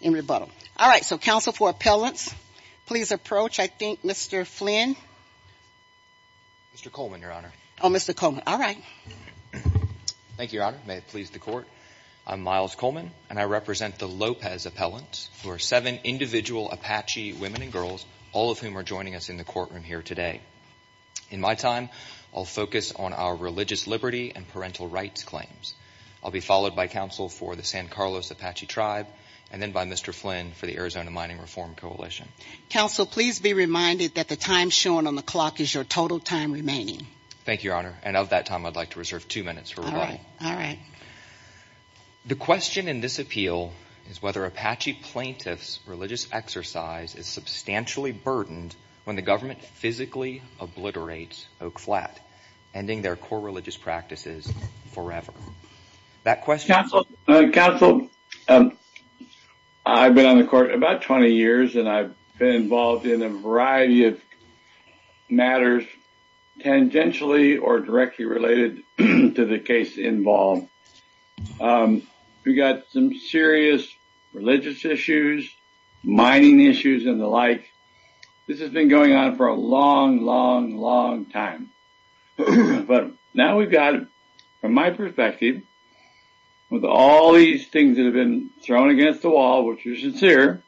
in rebuttal. All right, so Council for Appellants, please approach, I think, Mr. Flynn. Mr. Coleman, Your Honor. Oh, Mr. Coleman. All right. Thank you, Your Honor. May it please the Court. I'm Miles Coleman, and I represent the Lopez Appellants, who are seven individual Apache women and girls, all of whom are joining us in the courtroom here today. In my time, I'll focus on our religious liberty and parental rights claims. I'll be followed by Council for the San Carlos Apache Tribe, and then by Mr. Flynn for the Arizona Mining Reform Coalition. Council, please be reminded that the time shown on the clock is your total time remaining. Thank you, Your Honor. And of that time, I'd like to reserve two minutes for rebuttal. All right. The question in this appeal is whether Apache plaintiffs' religious exercise is substantially burdened when the government physically obliterates Oak Flat, ending their core religious practices forever. That question— Council, I've been on the Court about 20 years, and I've been involved in a variety of matters tangentially or directly related to the case involved. We've got some serious religious issues, mining issues and the like. This has been going on for a long, long, long time. But now we've got, from my perspective, with all these things that have been thrown against the wall, which are sincere,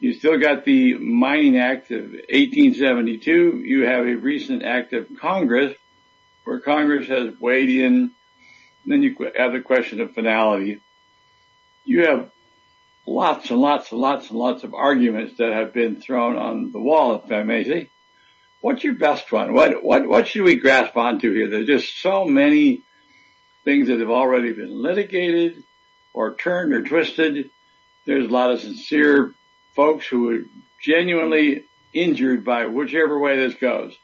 you still got the Mining Act of 1872, you have a recent act of Congress where Congress has weighed in, and then you have the question of finality. You have lots and lots and lots and lots of arguments that have been thrown on the wall, if I may say. What's your best one? What should we grasp onto here? There's just so many things that have already been litigated or turned or twisted. There's a lot of sincere folks who are genuinely injured by whichever way this goes.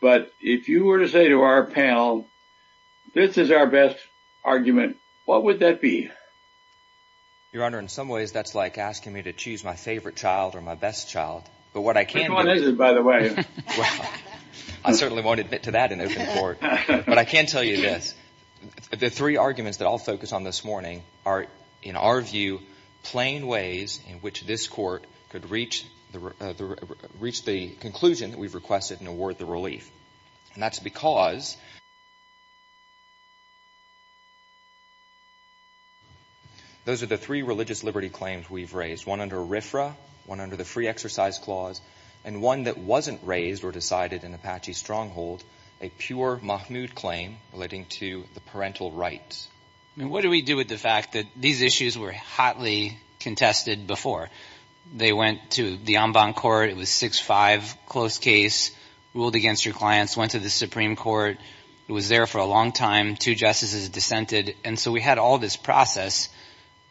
But if you were to say to our panel, this is our best argument, what would that be? Your Honor, in some ways, that's like asking me to choose my favorite child or my best child. Which one is it, by the way? I certainly won't admit to that in open court. But I can tell you this. The three arguments that I'll focus on this morning are, in our view, plain ways in which this Court could reach the conclusion that we've requested and award the relief. And that's because those are the three religious liberty claims we've raised, one under RFRA, one under the Free Exercise Clause, and one that wasn't raised or decided in Apache Stronghold, a pure Mahmood claim relating to the parental rights. What do we do with the fact that these issues were hotly contested before? They went to the en banc court. It was 6-5, close case, ruled against your clients, went to the Supreme Court. It was there for a long time. Two justices dissented. And so we had all this process.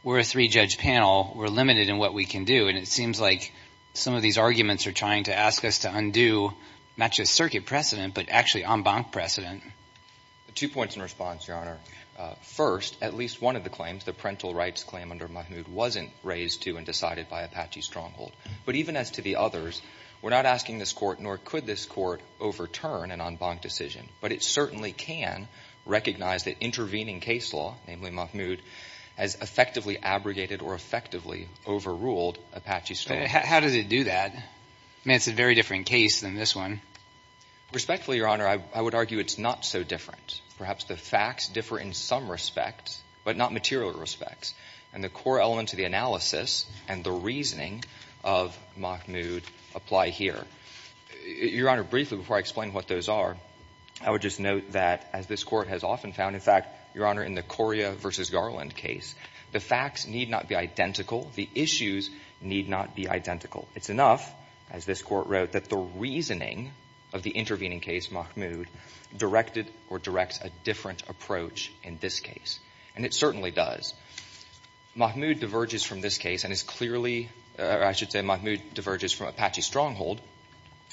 We're a three-judge panel. We're limited in what we can do. And it seems like some of these arguments are trying to ask us to undo not just circuit precedent, but actually en banc precedent. Two points in response, Your Honor. First, at least one of the claims, the parental rights claim under Mahmood, wasn't raised to and decided by Apache Stronghold. But even as to the others, we're not asking this Court, nor could this Court, overturn an en banc decision. But it certainly can recognize that intervening case law, namely Mahmood, has effectively abrogated or effectively overruled Apache Stronghold. How does it do that? I mean, it's a very different case than this one. Respectfully, Your Honor, I would argue it's not so different. Perhaps the facts differ in some respects, but not material respects. And the core elements of the analysis and the reasoning of Mahmood apply here. Your Honor, briefly, before I explain what those are, I would just note that, as this Court has often found, in fact, Your Honor, in the Coria v. Garland case, the facts need not be identical. The issues need not be identical. It's enough, as this Court wrote, that the reasoning of the intervening case, Mahmood, directed or directs a different approach in this case. And it certainly does. Mahmood diverges from this case and is clearly, or I should say Mahmood diverges from Apache Stronghold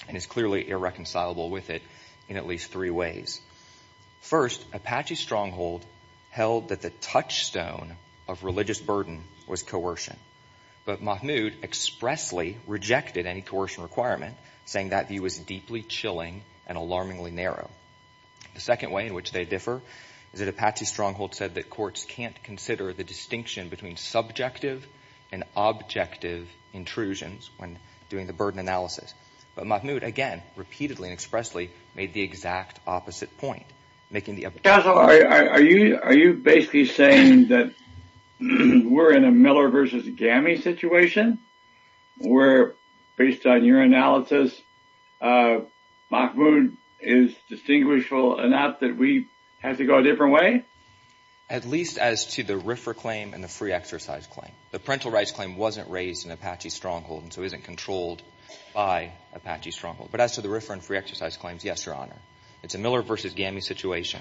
and is clearly irreconcilable with it in at least three ways. First, Apache Stronghold held that the touchstone of religious burden was coercion. But Mahmood expressly rejected any coercion requirement, saying that view was deeply chilling and alarmingly narrow. The second way in which they differ is that Apache Stronghold said that courts can't consider the distinction between subjective and objective intrusions when doing the burden analysis. But Mahmood, again, repeatedly and expressly, made the exact opposite point, making the... Counselor, are you basically saying that we're in a Miller v. Gammy situation, where, based on your analysis, Mahmood is distinguishable enough that we have to go a different way? At least as to the RFRA claim and the free exercise claim. The parental rights claim wasn't raised in Apache Stronghold and so isn't controlled by Apache Stronghold. But as to the RFRA and free exercise claims, yes, Your Honor. It's a Miller v. Gammy situation,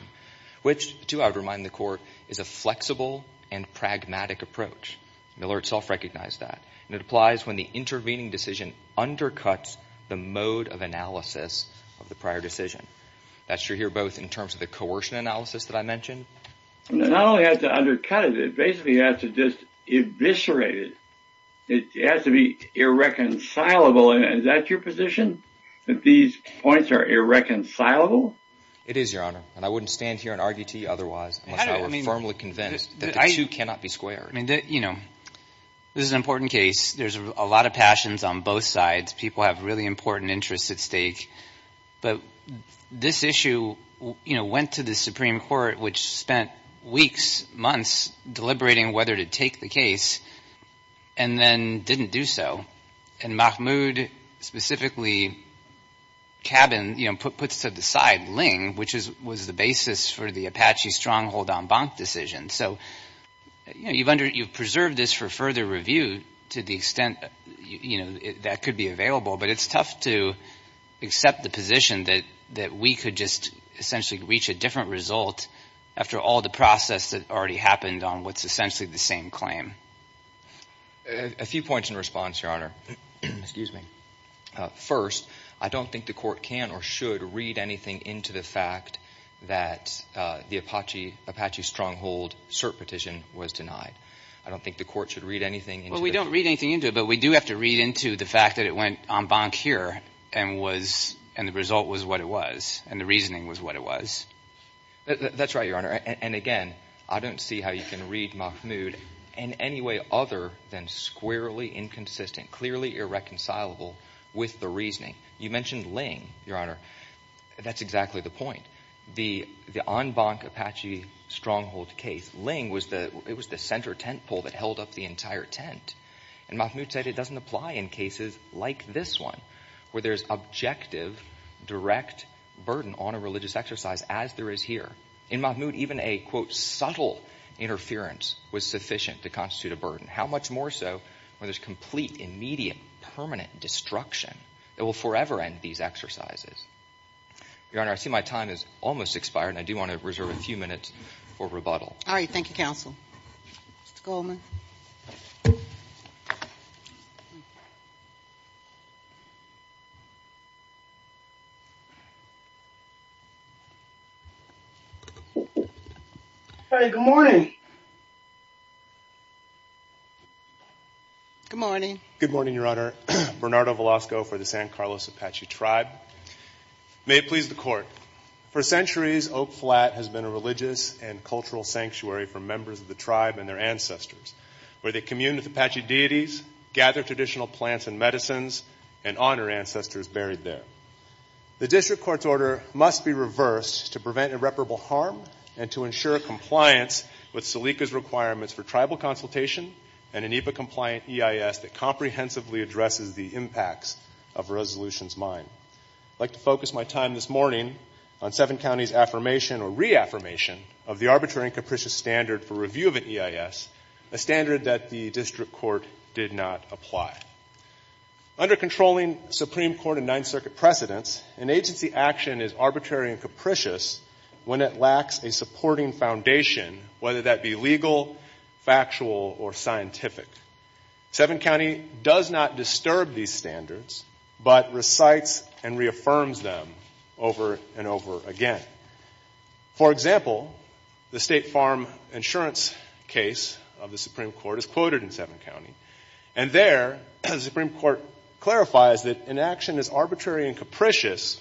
which, too, I would remind the Court, is a flexible and pragmatic approach. Miller itself recognized that. And it applies when the intervening decision undercuts the mode of analysis of the prior decision. That's true here both in terms of the coercion analysis that I mentioned... Not only has to undercut it, it basically has to just eviscerate it. It has to be irreconcilable. Is that your position, that these points are irreconcilable? It is, Your Honor. And I wouldn't stand here and argue to you otherwise, unless I were firmly convinced that the two cannot be squared. I mean, you know, this is an important case. There's a lot of passions on both sides. People have really important interests at stake. But this issue, you know, went to the Supreme Court, which spent weeks, months, deliberating whether to take the case and then didn't do so. And Mahmoud specifically cabined, you know, puts to the side Ling, which was the basis for the Apache Stronghold en banc decision. So, you know, you've preserved this for further review to the extent, you know, that could be available. But it's tough to accept the position that we could just essentially reach a different result after all the process that already happened on what's essentially the same claim. A few points in response, Your Honor. Excuse me. First, I don't think the court can or should read anything into the fact that the Apache Stronghold cert petition was denied. I don't think the court should read anything. Well, we don't read anything into it, but we do have to read into the fact that it went en banc here and the result was what it was and the reasoning was what it was. That's right, Your Honor. And again, I don't see how you can read Mahmoud in any way other than squarely inconsistent, clearly irreconcilable with the reasoning. You mentioned Ling, Your Honor. That's exactly the point. The en banc Apache Stronghold case, Ling was the center tent pole that held up the entire tent. And Mahmoud said it doesn't apply in cases like this one, where there's objective, direct burden on a religious exercise as there is here. In Mahmoud, even a, quote, subtle interference was sufficient to constitute a burden. How much more so when there's complete, immediate, permanent destruction that will forever end these exercises? Your Honor, I see my time has almost expired and I do want to reserve a few minutes for rebuttal. All right, thank you, counsel. Mr. Goldman. Hey, good morning. Good morning. Good morning, Your Honor. Bernardo Velasco for the San Carlos Apache Tribe. May it please the Court. For centuries, Oak Flat has been a religious and cultural sanctuary for members of the tribe and their ancestors, where they commune with Apache deities, gather traditional plants and medicines, and honor ancestors buried there. The district court's order must be reversed to prevent irreparable harm and to ensure compliance with SELICA's requirements for tribal consultation and an IPA-compliant EIS that comprehensively addresses the impacts of a resolution's mine. I'd like to focus my time this morning on Seven County's affirmation or reaffirmation of the arbitrary and capricious standard for review of an EIS, a standard that the district court did not apply. Under controlling Supreme Court and Ninth Circuit precedents, an agency action is arbitrary and capricious when it lacks a supporting foundation, whether that be but recites and reaffirms them over and over again. For example, the State Farm Insurance case of the Supreme Court is quoted in Seven County, and there the Supreme Court clarifies that an action is arbitrary and capricious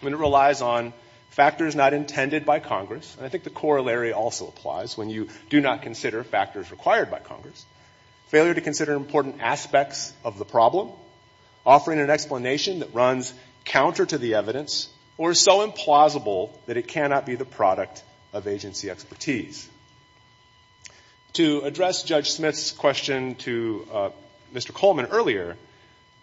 when it relies on factors not intended by Congress. And I think the corollary also applies when you do not consider factors required by Congress. Failure to consider important aspects of the problem, offering an explanation that runs counter to the evidence, or so implausible that it cannot be the product of agency expertise. To address Judge Smith's question to Mr. Coleman earlier,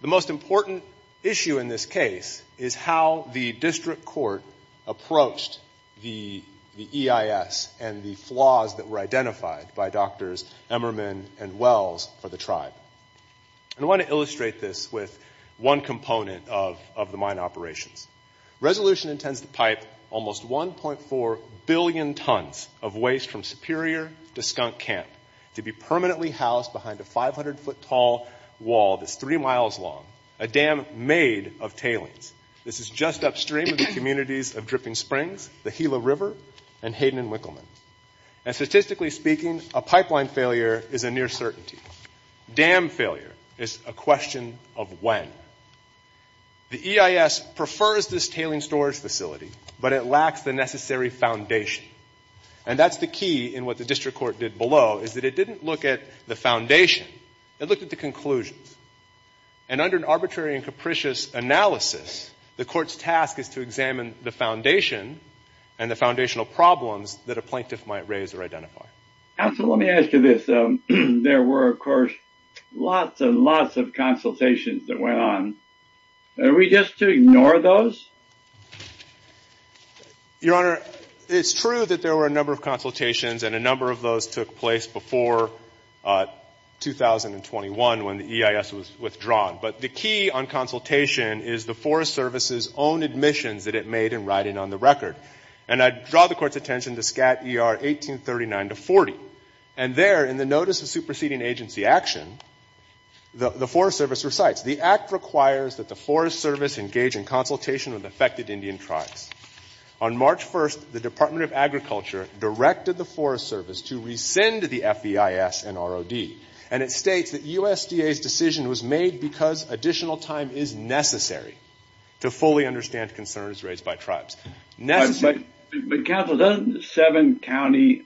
the most important issue in this case is how the district court approached the EIS and the flaws that were identified by Drs. Emmerman and Wells for the tribe. I want to illustrate this with one component of the mine operations. Resolution intends to pipe almost 1.4 billion tons of waste from Superior to Skunk Camp to be permanently housed behind a 500-foot-tall wall that's three miles long, a dam made of tailings. This is just upstream of the communities of Dripping Springs, the Gila River, and Hayden and Wickleman. And statistically speaking, a pipeline failure is a near certainty. Dam failure is a question of when. The EIS prefers this tailing storage facility, but it lacks the necessary foundation. And that's the key in what the district court did below, is that it didn't look at the foundation. It looked at the conclusions. And under an arbitrary and capricious analysis, the court's task is to examine the foundation and the foundational problems that a plaintiff might raise or identify. Counsel, let me ask you this. There were, of course, lots and lots of consultations that went on. Are we just to ignore those? Your Honor, it's true that there were a number of consultations, and a number of those took place before 2021 when the EIS was withdrawn. But the key on consultation is the Forest Service's own admissions that it made in writing on the record. And I draw the Court's attention to SCAT ER 1839 to 40. And there, in the notice of superseding agency action, the Forest Service recites, the act requires that the Forest Service engage in consultation with affected Indian tribes. On March 1st, the Department of Agriculture directed the Forest Service to rescind the FEIS and ROD. And it states that USDA's decision was made because additional time is necessary to fully understand concerns raised by tribes. But Counsel, doesn't Seven County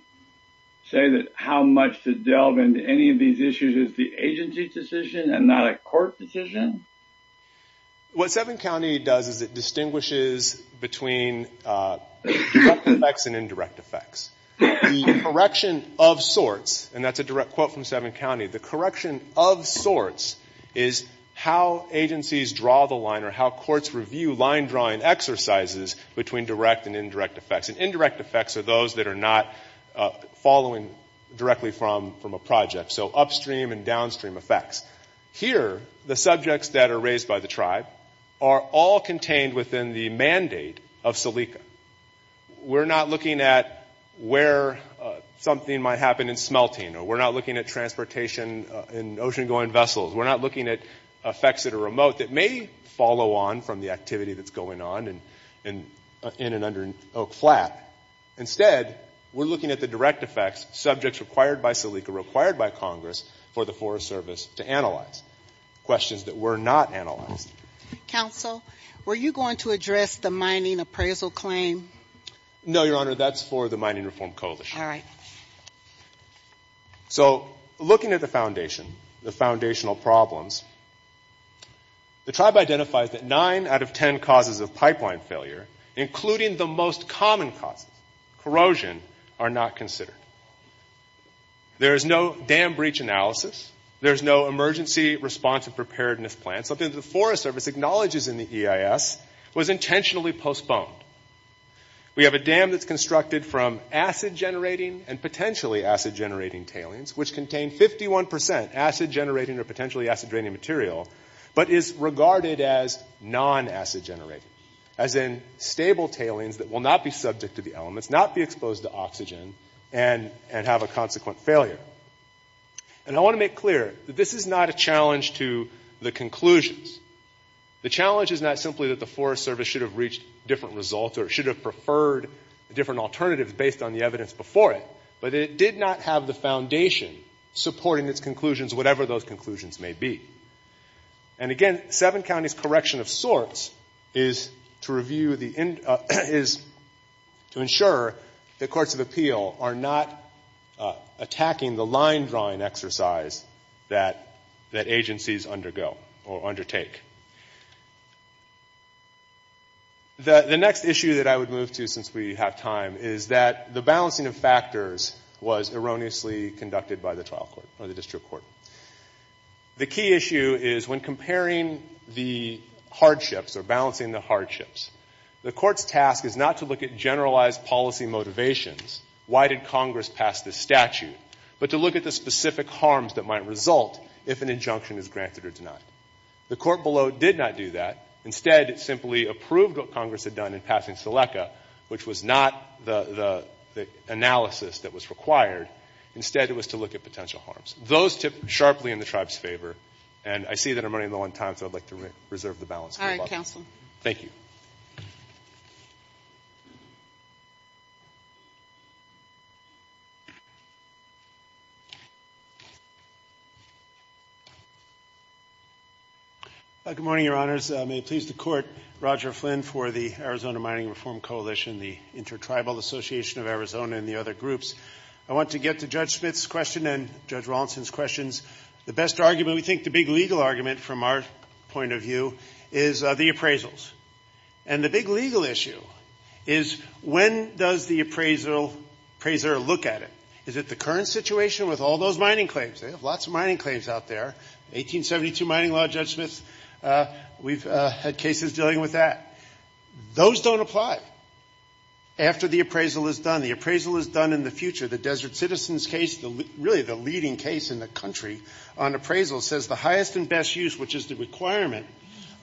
say that how much to delve into any of these issues is the agency's decision and not a court decision? What Seven County does is it distinguishes between direct effects and indirect effects. The correction of sorts, and that's a direct quote from Seven County, the correction of sorts is how agencies draw the line or how courts review line drawing exercises between direct and indirect effects. And indirect effects are those that are not following directly from a project. So upstream and downstream effects. Here, the subjects that are raised by the tribe are all contained within the mandate of Celica. We're not looking at where something might happen in smelting or we're not looking at transportation in ocean-going vessels. We're not looking at effects at a remote that may follow on from the activity that's going on in and under Oak Flat. Instead, we're looking at the direct effects, subjects required by Celica, required by Congress for the Forest Service to analyze. Questions that were not analyzed. Counsel, were you going to address the mining appraisal claim? No, Your Honor, that's for the Mining Reform Coalition. All right. So looking at the foundation, the foundational problems, the tribe identifies that nine out of ten causes of pipeline failure, including the most common causes, corrosion, are not considered. There is no dam breach analysis. There is no emergency response and preparedness plan. Something that the Forest Service acknowledges in the EIS was intentionally postponed. We have a dam that's constructed from acid-generating and potentially acid-generating tailings, which contain 51 percent acid-generating or potentially acid-draining material, but is regarded as non-acid-generating, as in stable tailings that will not be subject to the elements, not be exposed to oxygen, and have a consequent failure. And I want to make clear that this is not a challenge to the conclusions. The challenge is not simply that the Forest Service should have reached different results or should have preferred different alternatives based on the evidence before it, but it did not have the foundation supporting its conclusions, whatever those conclusions may be. And again, seven counties' correction of sorts is to review the end, is to ensure that courts of appeal are not attacking the line-drawing exercise that agencies undergo or undertake. The next issue that I would move to, since we have time, is that the balancing of factors was erroneously conducted by the trial court or the district court. The key issue is, when comparing the hardships or balancing the hardships, the court's task is not to look at generalized policy motivations, why did Congress pass this statute, but to look at the specific harms that might result if an injunction is granted or denied. The court below did not do that. Instead, it simply approved what Congress had done in passing SELECA, which was not the analysis that was required. Instead, it was to look at potential harms. Those tip sharply in the tribe's favor. And I see that I'm running low on time, so I'd like to reserve the balance. All right, counsel. Thank you. Good morning, Your Honors. May it please the Court, Roger Flynn for the Arizona Mining Reform Coalition, the Intertribal Association of Arizona, and the other groups. I want to get to Judge Smith's question and Judge Rawlinson's questions. The best argument, we think the big legal argument from our point of view, is the appraisals. And the big legal issue is, when does the appraiser look at it? Is it the current situation with all those mining claims? They have lots of mining claims out there. 1872 mining law, Judge Smith, we've had cases dealing with that. Those don't apply after the appraisal is done. The appraisal is done in the future. The Desert Citizens case, really the leading case in the country on appraisal, says the highest and best use, which is the requirement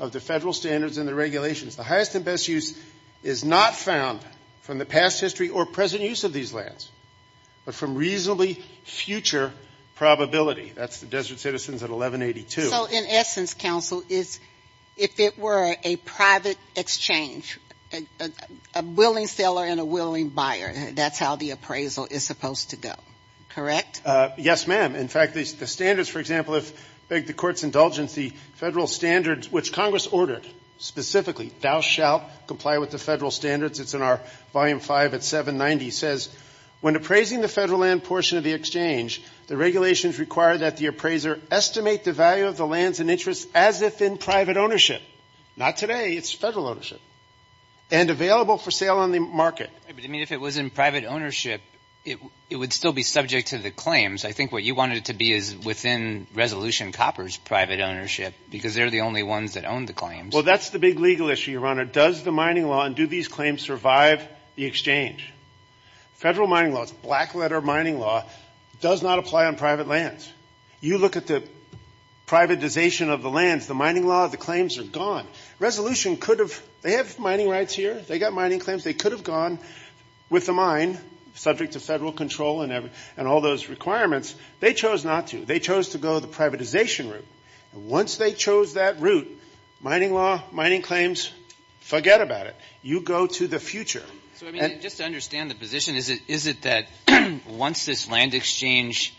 of the federal standards and the regulations, the highest and best use is not found from the past history or present use of these lands, but from reasonably future probability. That's the Desert Citizens at 1182. So, in essence, counsel, if it were a private exchange, a willing seller and a willing buyer, that's how the appraisal is supposed to go, correct? Yes, ma'am. In fact, the standards, for example, if I beg the Court's indulgence, the federal standards, which Congress ordered specifically, thou shalt comply with the federal standards, it's in our volume 5 at 790, says, when appraising the federal land portion of the exchange, the regulations require that the appraiser estimate the value of the lands and interests as if in private ownership. Not today. It's federal ownership. And available for sale on the market. But, I mean, if it was in private ownership, it would still be subject to the claims. I think what you wanted it to be is within Resolution Copper's private ownership, because they're the only ones that own the claims. Well, that's the big legal issue, Your Honor. Does the mining law and do these claims survive the exchange? Federal mining law, it's black letter mining law, does not apply on private lands. You look at the privatization of the lands, the mining law, the claims are gone. Resolution could have, they have mining rights here. They got mining claims. They could have gone with the mine, subject to federal control and all those requirements. They chose not to. They chose to go the privatization route. And once they chose that route, mining law, mining claims, forget about it. You go to the future. So, I mean, just to understand the position, is it that once this land exchange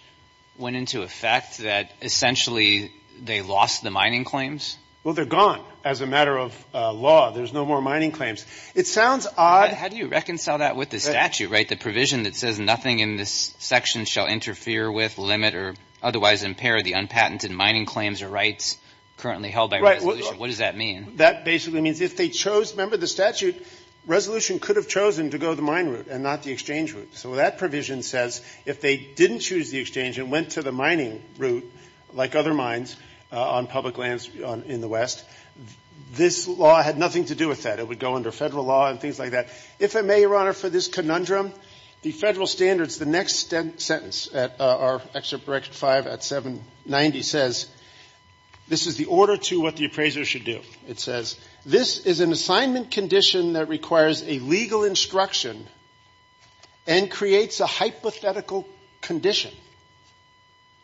went into effect that essentially they lost the mining claims? Well, they're gone as a matter of law. There's no more mining claims. It sounds odd. How do you reconcile that with the statute, right, the provision that says nothing in this section shall interfere with, limit, or otherwise impair the unpatented mining claims or rights currently held by resolution? What does that mean? That basically means if they chose, remember the statute, resolution could have chosen to go the mine route and not the exchange route. So that provision says if they didn't choose the exchange and went to the mining route, like other mines on public lands in the West, this law had nothing to do with that. It would go under federal law and things like that. If I may, Your Honor, for this conundrum, the federal standards, the next sentence at our Excerpt for Section 5 at 790 says, this is the order to what the appraiser should do. It says, this is an assignment condition that requires a legal instruction and creates a hypothetical condition.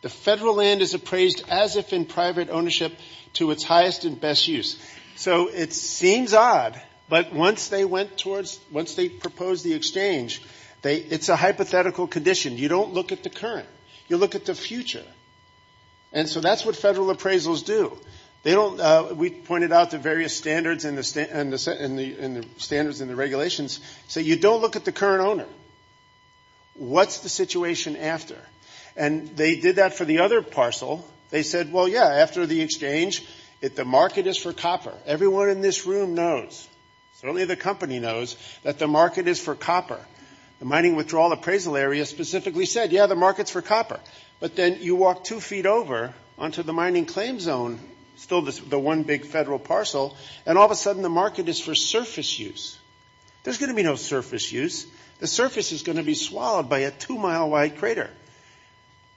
The federal land is appraised as if in private ownership to its highest and best use. So it seems odd, but once they propose the exchange, it's a hypothetical condition. You don't look at the current. You look at the future. And so that's what federal appraisals do. We pointed out the various standards in the regulations, so you don't look at the current owner. What's the situation after? And they did that for the other parcel. They said, well, yeah, after the exchange, the market is for copper. Everyone in this room knows, certainly the company knows, that the market is for copper. The mining withdrawal appraisal area specifically said, yeah, the market's for But then you walk two feet over onto the mining claim zone, still the one big federal parcel, and all of a sudden the market is for surface use. There's going to be no surface use. The surface is going to be swallowed by a two-mile-wide crater.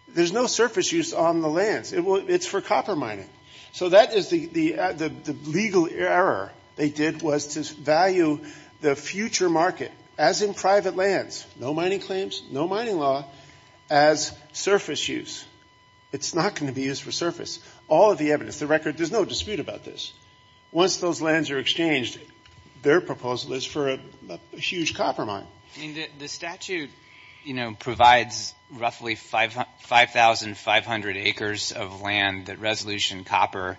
There's no surface use on the lands. It's for copper mining. So that is the legal error they did, was to value the future market as in private lands, no mining claims, no mining law, as surface use. It's not going to be used for surface. All of the evidence, the record, there's no dispute about this. Once those lands are exchanged, their proposal is for a huge copper mine. The statute provides roughly 5,500 acres of land that resolution copper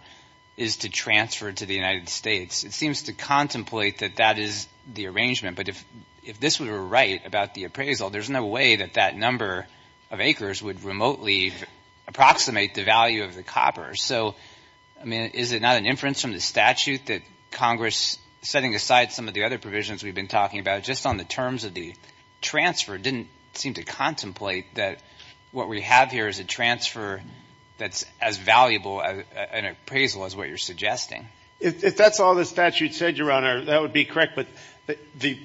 is to transfer to the United States. It seems to contemplate that that is the arrangement. But if this were right about the appraisal, there's no way that that number of acres would remotely approximate the value of the copper. So is it not an inference from the statute that Congress, setting aside some of the other transfer, didn't seem to contemplate that what we have here is a transfer that's as valuable an appraisal as what you're suggesting? If that's all the statute said, Your Honor, that would be correct. But the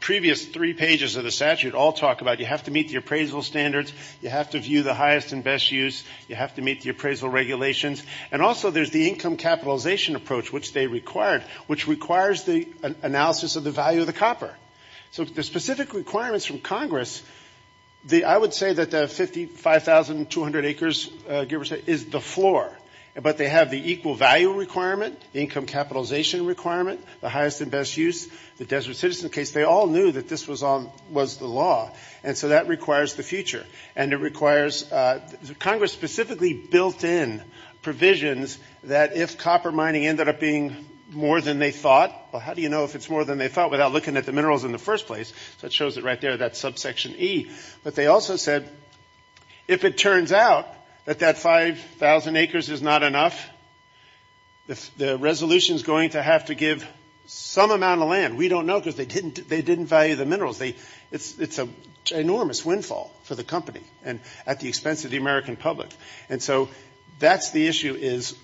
previous three pages of the statute all talk about you have to meet the appraisal standards. You have to view the highest and best use. You have to meet the appraisal regulations. And also, there's the income capitalization approach, which they required, which requires the analysis of the value of the copper. So the specific requirements from Congress, I would say that the 55,200 acres, give or take, is the floor. But they have the equal value requirement, income capitalization requirement, the highest and best use, the desert citizen case. They all knew that this was the law. And so that requires the future. And it requires Congress specifically built in provisions that if copper mining ended up being more than they thought, well, how do you know if it's more than they thought without looking at the minerals in the first place? So it shows it right there, that subsection E. But they also said if it turns out that that 5,000 acres is not enough, the resolution is going to have to give some amount of land. We don't know because they didn't value the minerals. It's an enormous windfall for the company and at the expense of the American public. And so that's the issue is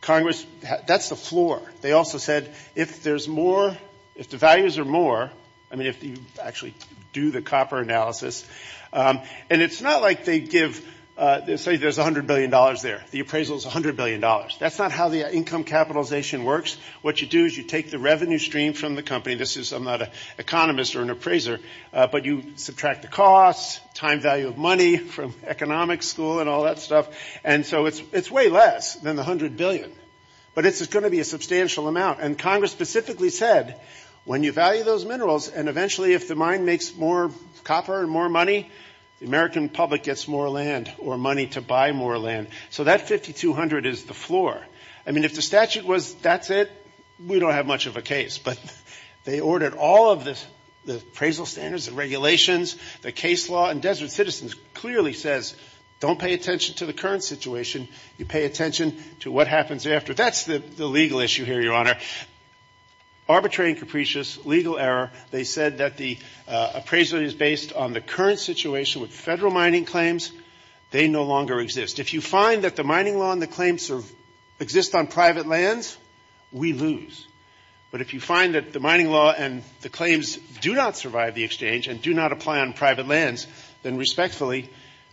Congress, that's the floor. They also said if there's more, if the values are more, I mean, if you actually do the copper analysis, and it's not like they give, say there's $100 billion there. The appraisal is $100 billion. That's not how the income capitalization works. What you do is you take the revenue stream from the company. This is, I'm not an economist or an appraiser, but you subtract the cost, time value of money from economic school and all that stuff. And so it's way less than the $100 billion. But it's going to be a substantial amount. And Congress specifically said when you value those minerals, and eventually if the mine makes more copper and more money, the American public gets more land or money to buy more land. So that 5,200 is the floor. I mean, if the statute was that's it, we don't have much of a case. But they ordered all of the appraisal standards and regulations, the case law, and Desert Citizens clearly says don't pay attention to the current situation. You pay attention to what happens after. That's the legal issue here, Your Honor. Arbitrary and capricious legal error. They said that the appraisal is based on the current situation with federal mining claims. They no longer exist. If you find that the mining law and the claims exist on private lands, we lose. But if you find that the mining law and the claims do not survive the exchange and do not apply on private lands, then respectfully,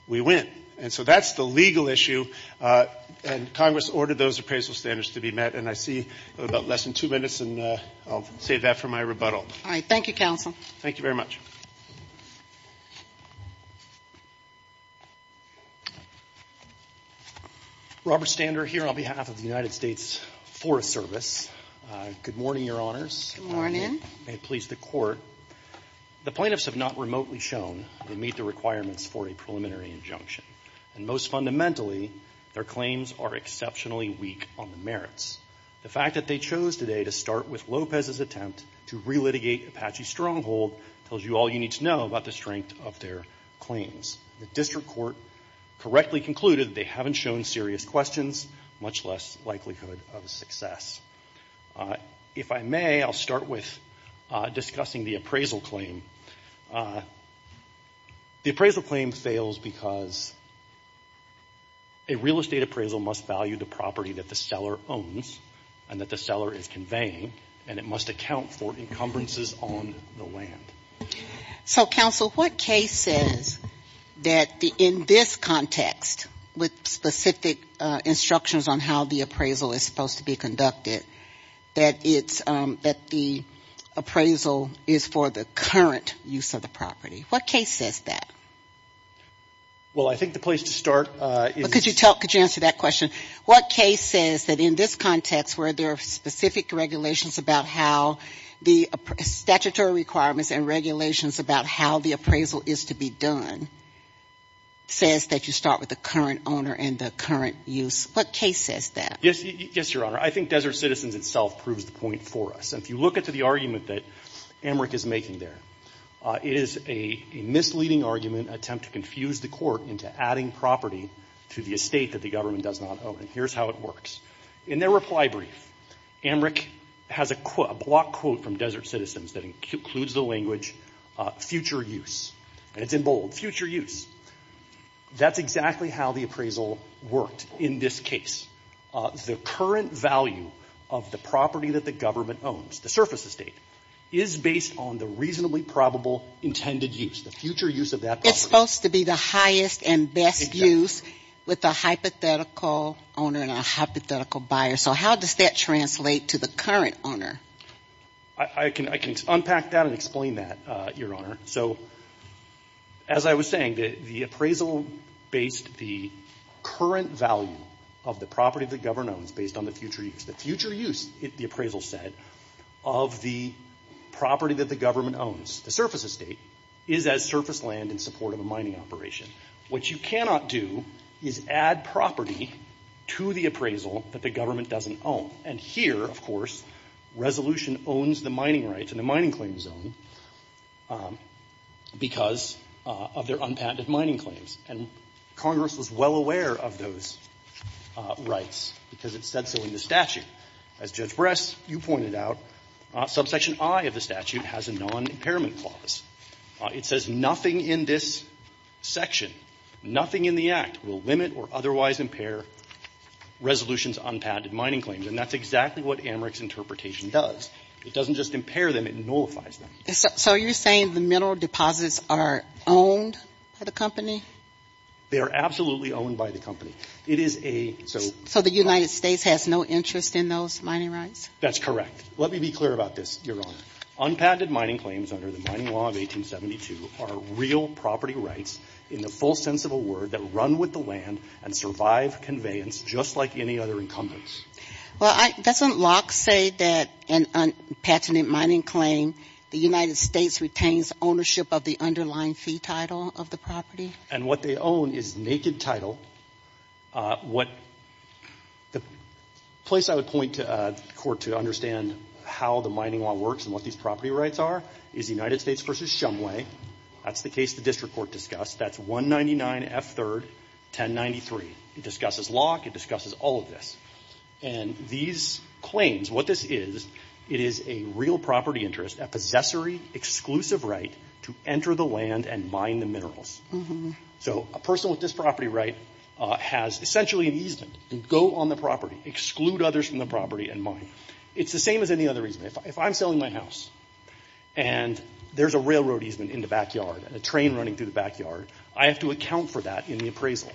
we win. And so that's the legal issue. And Congress ordered those appraisal standards to be met. And I see about less than two minutes, and I'll save that for my rebuttal. All right. Thank you, counsel. Thank you very much. Robert Stander here on behalf of the United States Forest Service. Good morning, Your Honors. Good morning. May it please the Court. The plaintiffs have not remotely shown they meet the requirements for a preliminary injunction. And most fundamentally, their claims are exceptionally weak on the merits. The fact that they chose today to start with Lopez's attempt to relitigate Apache Stronghold tells you all you need to know about the strength of their claims. The district court correctly concluded they haven't shown serious questions, much less likelihood of success. If I may, I'll start with discussing the appraisal claim. The appraisal claim fails because a real estate appraisal must value the property that the seller owns and that the seller is conveying, and it must account for encumbrances on the So, counsel, what case says that in this context, with specific instructions on how the appraisal is supposed to be conducted, that the appraisal is for the current use of the property? What case says that? Well, I think the place to start is... Could you answer that question? What case says that in this context, where there are specific regulations about how the statutory requirements and regulations about how the appraisal is to be done, says that you start with the current owner and the current use? What case says that? Yes, Your Honor. I think Desert Citizens itself proves the point for us. And if you look at the argument that Amrick is making there, it is a misleading argument attempt to confuse the court into adding property to the estate that the government does not own. And here's how it works. In their reply brief, Amrick has a block quote from Desert Citizens that includes the language, future use. And it's in bold, future use. That's exactly how the appraisal worked in this case. The current value of the property that the government owns, the surface estate, is based on the reasonably probable intended use, the future use of that property. It's supposed to be the highest and best use with a hypothetical owner and a hypothetical buyer. So how does that translate to the current owner? I can unpack that and explain that, Your Honor. So as I was saying, the appraisal based the current value of the property the government owns based on the future use. The future use, the appraisal said, of the property that the government owns, the surface estate, is as surface land in support of a mining operation. What you cannot do is add property to the appraisal that the government doesn't own. And here, of course, resolution owns the mining rights and the mining claim zone because of their unpatented mining claims. And Congress was well aware of those rights because it said so in the statute. As Judge Bress, you pointed out, subsection I of the statute has a non-impairment clause. It says nothing in this section, nothing in the Act will limit or otherwise impair resolution's unpatented mining claims. And that's exactly what Americ's interpretation does. It doesn't just impair them, it nullifies them. So you're saying the mineral deposits are owned by the company? They are absolutely owned by the company. It is a so. So the United States has no interest in those mining rights? That's correct. Let me be clear about this, Your Honor. Unpatented mining claims under the Mining Law of 1872 are real property rights in the full sense of the word that run with the land and survive conveyance just like any other incumbents. Well, doesn't Locke say that an unpatented mining claim, the United States retains ownership of the underlying fee title of the property? And what they own is naked title. What the place I would point to the Court to understand how the mining law works and what these property rights are is the United States v. Shumway. That's the case the district court discussed. That's 199F3, 1093. It discusses Locke. It discusses all of this. And these claims, what this is, it is a real property interest, a possessory exclusive right to enter the land and mine the minerals. So a person with this property right has essentially an easement and go on the property, exclude others from the property and mine. It's the same as any other easement. If I'm selling my house and there's a railroad easement in the backyard and a train running through the backyard, I have to account for that in the appraisal.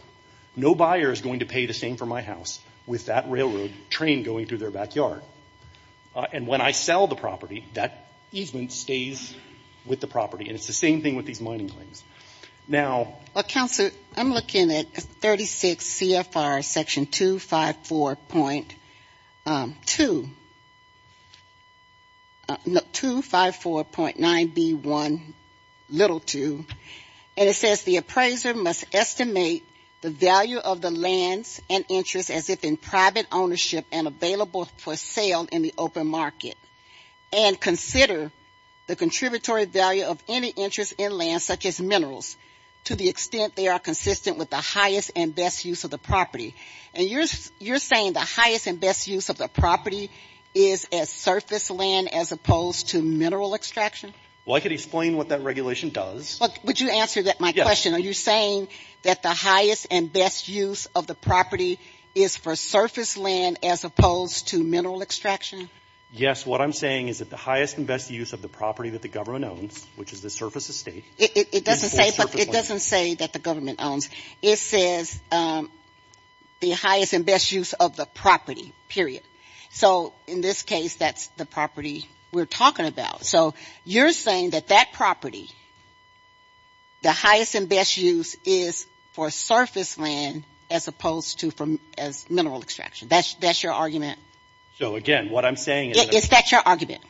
No buyer is going to pay the same for my house with that railroad train going through their backyard. And when I sell the property, that easement stays with the property. And it's the same thing with these mining claims. Now, Counselor, I'm looking at 36 CFR section 254.2, 254.9B1, little 2, and it says, the value of the lands and interest as if in private ownership and available for sale in the open market. And consider the contributory value of any interest in land such as minerals to the extent they are consistent with the highest and best use of the property. And you're saying the highest and best use of the property is as surface land as opposed to mineral extraction? Well, I could explain what that regulation does. Would you answer my question? Are you saying that the highest and best use of the property is for surface land as opposed to mineral extraction? Yes. What I'm saying is that the highest and best use of the property that the government owns, which is the surface estate. It doesn't say that the government owns. It says the highest and best use of the property, period. So in this case, that's the property we're talking about. So you're saying that that property, the highest and best use is for surface land as opposed to as mineral extraction. That's your argument? So, again, what I'm saying is that. Is that your argument?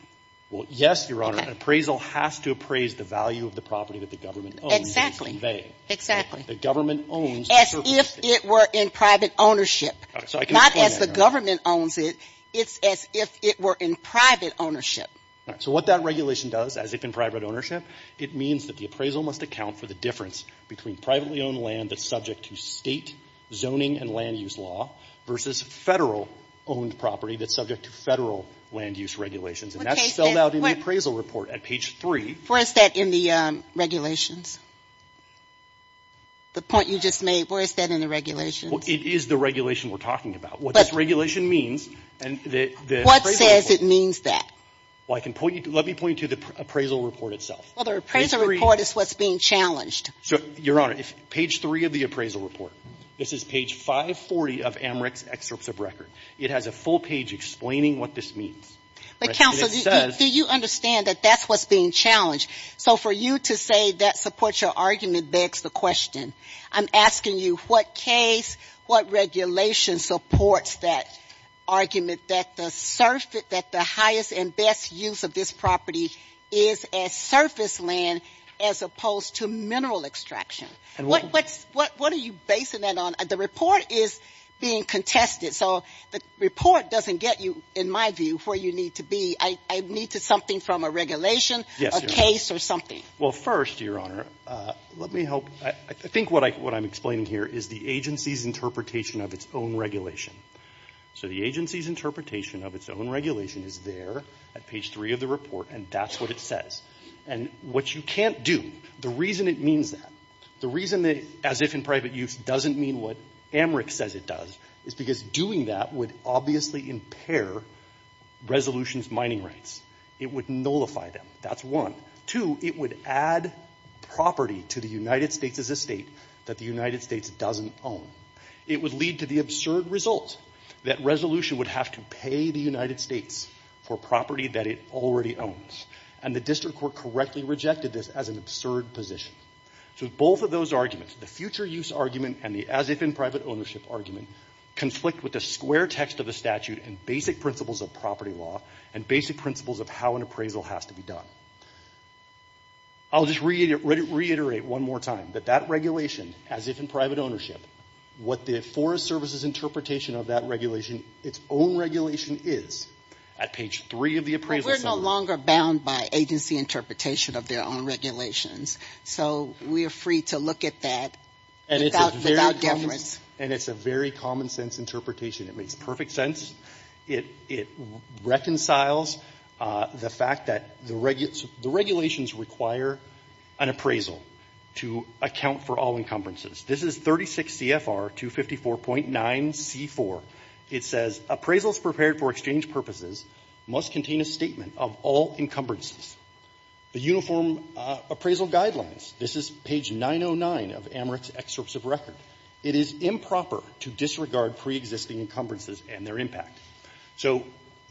Well, yes, Your Honor. An appraisal has to appraise the value of the property that the government owns. Exactly. Exactly. The government owns the surface estate. As if it were in private ownership, not as the government owns it. It's as if it were in private ownership. So what that regulation does, as if in private ownership, it means that the appraisal must account for the difference between privately owned land that's subject to State zoning and land use law versus Federal owned property that's subject to Federal land use regulations. And that's spelled out in the appraisal report at page 3. Where is that in the regulations? The point you just made, where is that in the regulations? It is the regulation we're talking about. What this regulation means and the appraisal. What says it means that? Let me point you to the appraisal report itself. Well, the appraisal report is what's being challenged. So, Your Honor, page 3 of the appraisal report. This is page 540 of AMREC's excerpts of record. It has a full page explaining what this means. But counsel, do you understand that that's what's being challenged? So for you to say that supports your argument begs the question. I'm asking you what case, what regulation supports that argument that the highest and best use of this property is as surface land as opposed to mineral extraction? What are you basing that on? The report is being contested. So the report doesn't get you, in my view, where you need to be. I need something from a regulation, a case or something. Well, first, Your Honor, let me help. I think what I'm explaining here is the agency's interpretation of its own regulation. So the agency's interpretation of its own regulation is there at page 3 of the report, and that's what it says. And what you can't do, the reason it means that, the reason it, as if in private use, doesn't mean what AMREC says it does is because doing that would obviously impair resolution's mining rights. It would nullify them. That's one. Two, it would add property to the United States as a state that the United States doesn't own. It would lead to the absurd result that resolution would have to pay the United States for property that it already owns. And the district court correctly rejected this as an absurd position. So both of those arguments, the future use argument and the as if in private ownership argument, conflict with the square text of the statute and basic principles of property law and basic principles of how an appraisal has to be done. I'll just reiterate one more time that that regulation, as if in private ownership, what the Forest Service's interpretation of that regulation, its own regulation is at page 3 of the appraisal summary. We're no longer bound by agency interpretation of their own regulations. So we are free to look at that without difference. And it's a very common sense interpretation. It makes perfect sense. It reconciles the fact that the regulations require an appraisal to account for all encumbrances. This is 36 CFR 254.9c4. It says appraisals prepared for exchange purposes must contain a statement of all encumbrances. The uniform appraisal guidelines, this is page 909 of Amrit's excerpts of record. It is improper to disregard preexisting encumbrances and their impact. So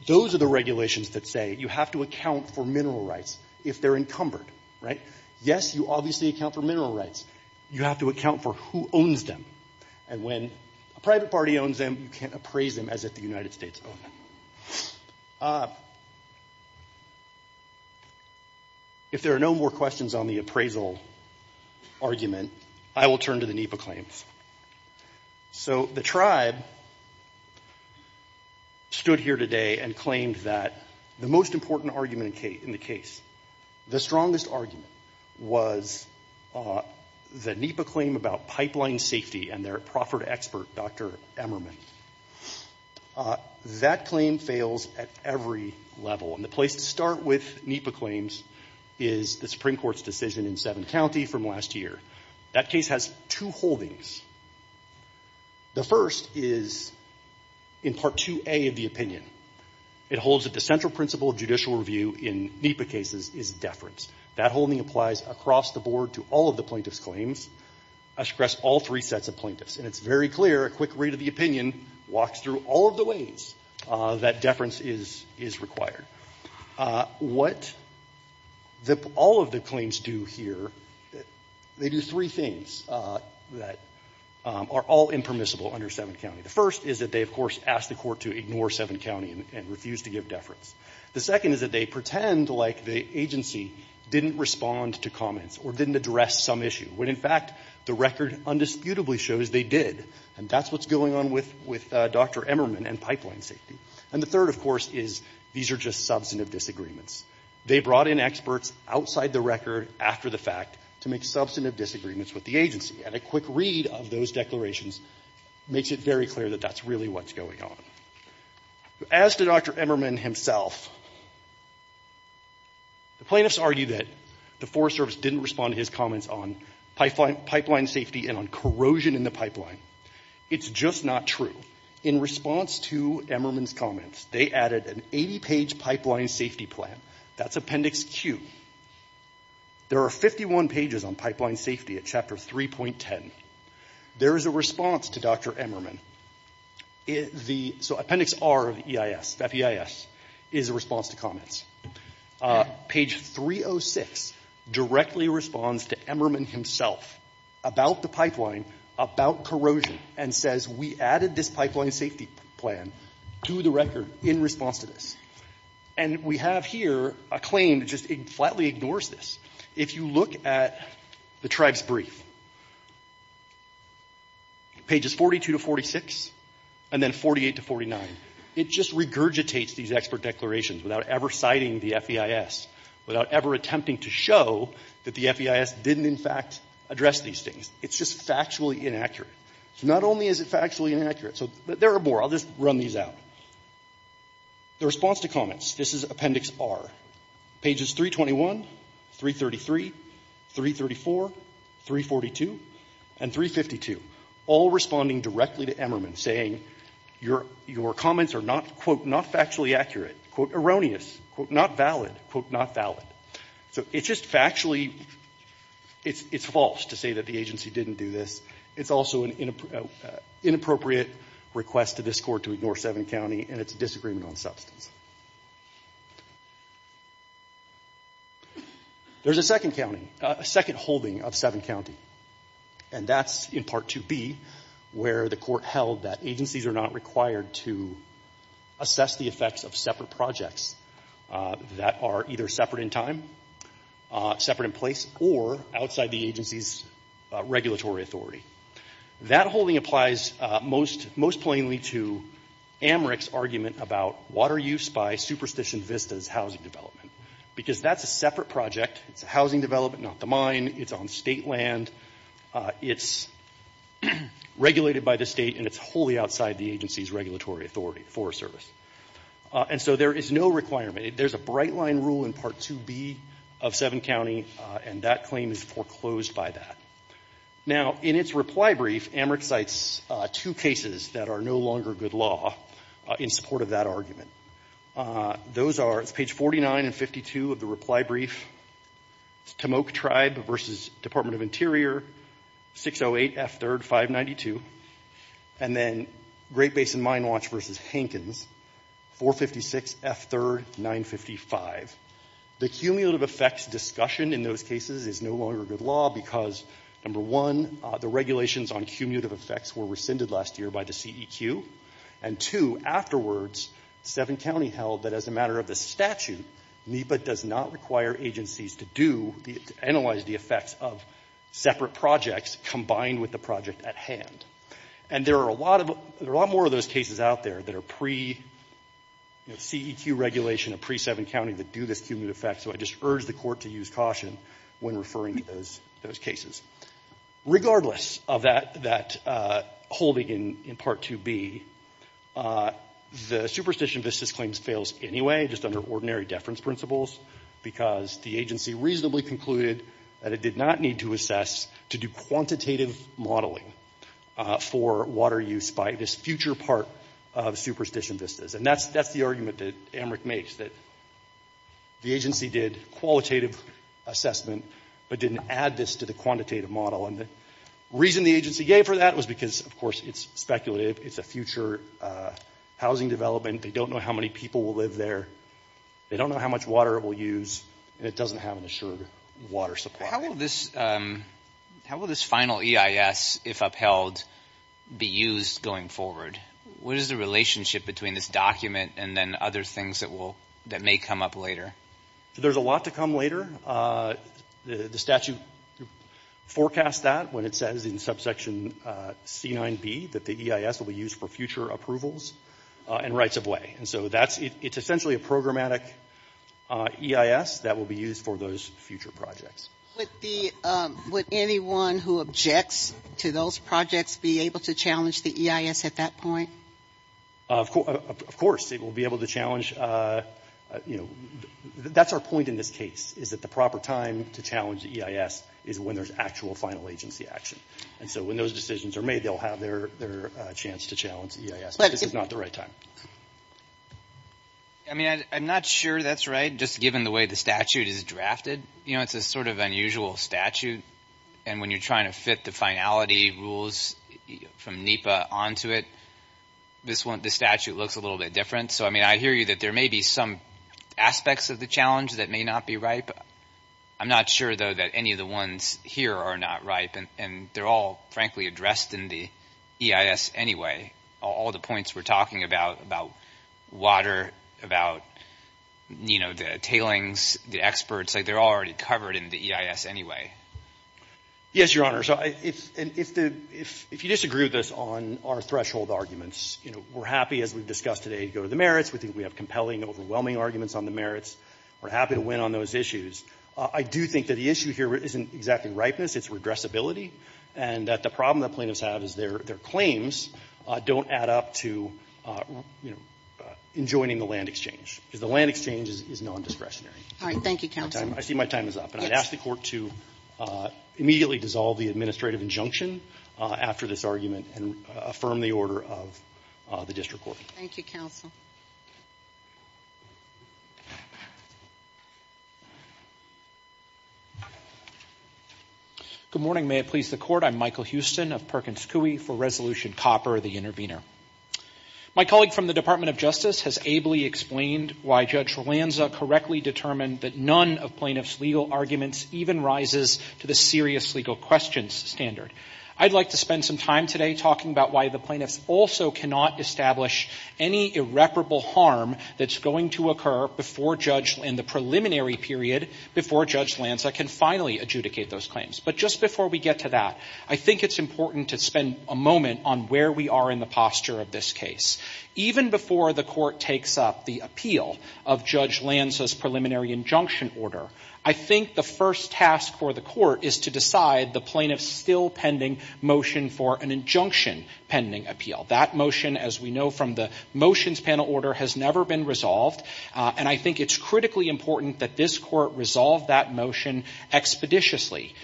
those are the regulations that say you have to account for mineral rights if they're encumbered, right? Yes, you obviously account for mineral rights. You have to account for who owns them. And when a private party owns them, you can't appraise them as if the United States owned them. If there are no more questions on the appraisal argument, I will turn to the NEPA claims. So the tribe stood here today and claimed that the most important argument in the case, the strongest argument, was the NEPA claim about pipeline safety and their proffered expert, Dr. Emmerman. That claim fails at every level. And the place to start with NEPA claims is the Supreme Court's decision in Seventh County from last year. That case has two holdings. The first is in Part 2a of the opinion. It holds that the central principle of judicial review in NEPA cases is deference. That holding applies across the board to all of the plaintiff's claims across all three sets of plaintiffs. And it's very clear, a quick read of the opinion walks through all of the ways that deference is required. What all of the claims do here, they do three things that are all impermissible under Seventh County. The first is that they, of course, ask the Court to ignore Seventh County and refuse to give deference. The second is that they pretend like the agency didn't respond to comments or didn't address some issue, when, in fact, the record undisputably shows they did. And that's what's going on with Dr. Emmerman and pipeline safety. And the third, of course, is these are just substantive disagreements. They brought in experts outside the record after the fact to make substantive disagreements with the agency. And a quick read of those declarations makes it very clear that that's really what's going on. As to Dr. Emmerman himself, the plaintiffs argue that the Forest Service didn't respond to his comments on pipeline safety and on corrosion in the pipeline. It's just not true. In response to Emmerman's comments, they added an 80-page pipeline safety plan. That's Appendix Q. There are 51 pages on pipeline safety at Chapter 3.10. There is a response to Dr. Emmerman. So Appendix R of the EIS, FEIS, is a response to comments. Page 306 directly responds to Emmerman himself about the pipeline, about corrosion, and says, we added this pipeline safety plan to the record in response to this. And we have here a claim that just flatly ignores this. If you look at the tribe's brief, pages 42 to 46, and then 48 to 49, it just regurgitates these expert declarations without ever citing the FEIS, without ever attempting to show that the FEIS didn't, in fact, address these things. It's just factually inaccurate. Not only is it factually inaccurate, but there are more. I'll just run these out. The response to comments, this is Appendix R, pages 321, 333, 334, 342, and 352, all responding directly to Emmerman, saying your comments are not, quote, not factually accurate, quote, erroneous, quote, not valid, quote, not valid. So it's just factually, it's false to say that the agency didn't do this. It's also an inappropriate request to this Court to ignore seven counts. And it's a disagreement on substance. There's a second holding of seven county. And that's in Part 2B, where the Court held that agencies are not required to assess the effects of separate projects that are either separate in time, separate in place, or outside the agency's regulatory authority. That holding applies most plainly to AMRIC's argument about water use by Superstition Vista's housing development, because that's a separate project. It's a housing development, not the mine. It's on state land. It's regulated by the state, and it's wholly outside the agency's regulatory authority, Forest Service. And so there is no requirement. There's a bright line rule in Part 2B of seven county, and that claim is foreclosed by that. Now, in its reply brief, AMRIC cites two cases that are no longer good law in support of that argument. Those are, it's page 49 and 52 of the reply brief, Tamoak Tribe v. Department of Interior, 608 F. 3rd, 592, and then Great Basin Mine Watch v. Hankins, 456 F. 3rd, 955. The cumulative effects discussion in those cases is no longer good law because, number one, the regulations on cumulative effects were rescinded last year by the CEQ, and two, afterwards, seven county held that as a matter of the statute, NEPA does not require agencies to do, to analyze the effects of separate projects combined with the project at hand. And there are a lot more of those cases out there that are pre-CEQ regulation, pre-seven county that do this cumulative effect, so I just urge the court to use caution when referring to those cases. Regardless of that holding in Part 2B, the superstition vistas claims fails anyway, just under ordinary deference principles, because the agency reasonably concluded that it did not need to assess to do quantitative modeling for water use by this future part of superstition vistas. And that's the argument that AMRIC makes, that the agency did qualitative assessment but didn't add this to the quantitative model. And the reason the agency gave for that was because, of course, it's speculative, it's a future housing development, they don't know how many people will live there, they don't know how much water it will use, and it doesn't have an assured water supply. How will this final EIS, if upheld, be used going forward? What is the relationship between this document and then other things that may come up later? There's a lot to come later. The statute forecasts that when it says in subsection C9B that the EIS will be used for future approvals and rights of way. And so it's essentially a programmatic EIS that will be used for those future projects. Would anyone who objects to those projects be able to challenge the EIS at that point? Of course. It will be able to challenge, you know, that's our point in this case, is that the proper time to challenge the EIS is when there's actual final agency action. And so when those decisions are made, they'll have their chance to challenge the EIS. But this is not the right time. I mean, I'm not sure that's right, just given the way the statute is drafted. You know, it's a sort of unusual statute. And when you're trying to fit the finality rules from NEPA onto it, this statute looks a little bit different. So, I mean, I hear you that there may be some aspects of the challenge that may not be right. I'm not sure, though, that any of the ones here are not right. And they're all, frankly, addressed in the EIS anyway. All the points we're talking about, about water, about, you know, the tailings, the experts, like, they're all already covered in the EIS anyway. Yes, Your Honor. So if you disagree with us on our threshold arguments, you know, we're happy, as we've discussed today, to go to the merits. We think we have compelling, overwhelming arguments on the merits. We're happy to win on those issues. I do think that the issue here isn't exactly ripeness. It's regressibility, and that the problem that plaintiffs have is their claims don't add up to, you know, enjoining the land exchange, because the land exchange is non-discretionary. All right. Thank you, Counsel. I see my time is up. And I'd ask the Court to immediately dissolve the administrative injunction after this argument and affirm the order of the District Court. Thank you, Counsel. Good morning. May it please the Court. I'm Michael Houston of Perkins Coie for Resolution Copper, the intervener. My colleague from the Department of Justice has ably explained why Judge Lanza correctly determined that none of plaintiffs' legal arguments even rises to the serious legal questions standard. I'd like to spend some time today talking about why the plaintiffs also cannot establish any irreparable harm that's going to occur before Judge — in the preliminary period before Judge Lanza can finally adjudicate those claims. But just before we get to that, I think it's important to spend a moment on where we are in the posture of this case. Even before the Court takes up the appeal of Judge Lanza's preliminary injunction order, I think the first task for the Court is to decide the plaintiff's still-pending motion for an injunction-pending appeal. That motion, as we know from the motions panel order, has never been resolved. And I think it's critically important that this Court resolve that motion expeditiously.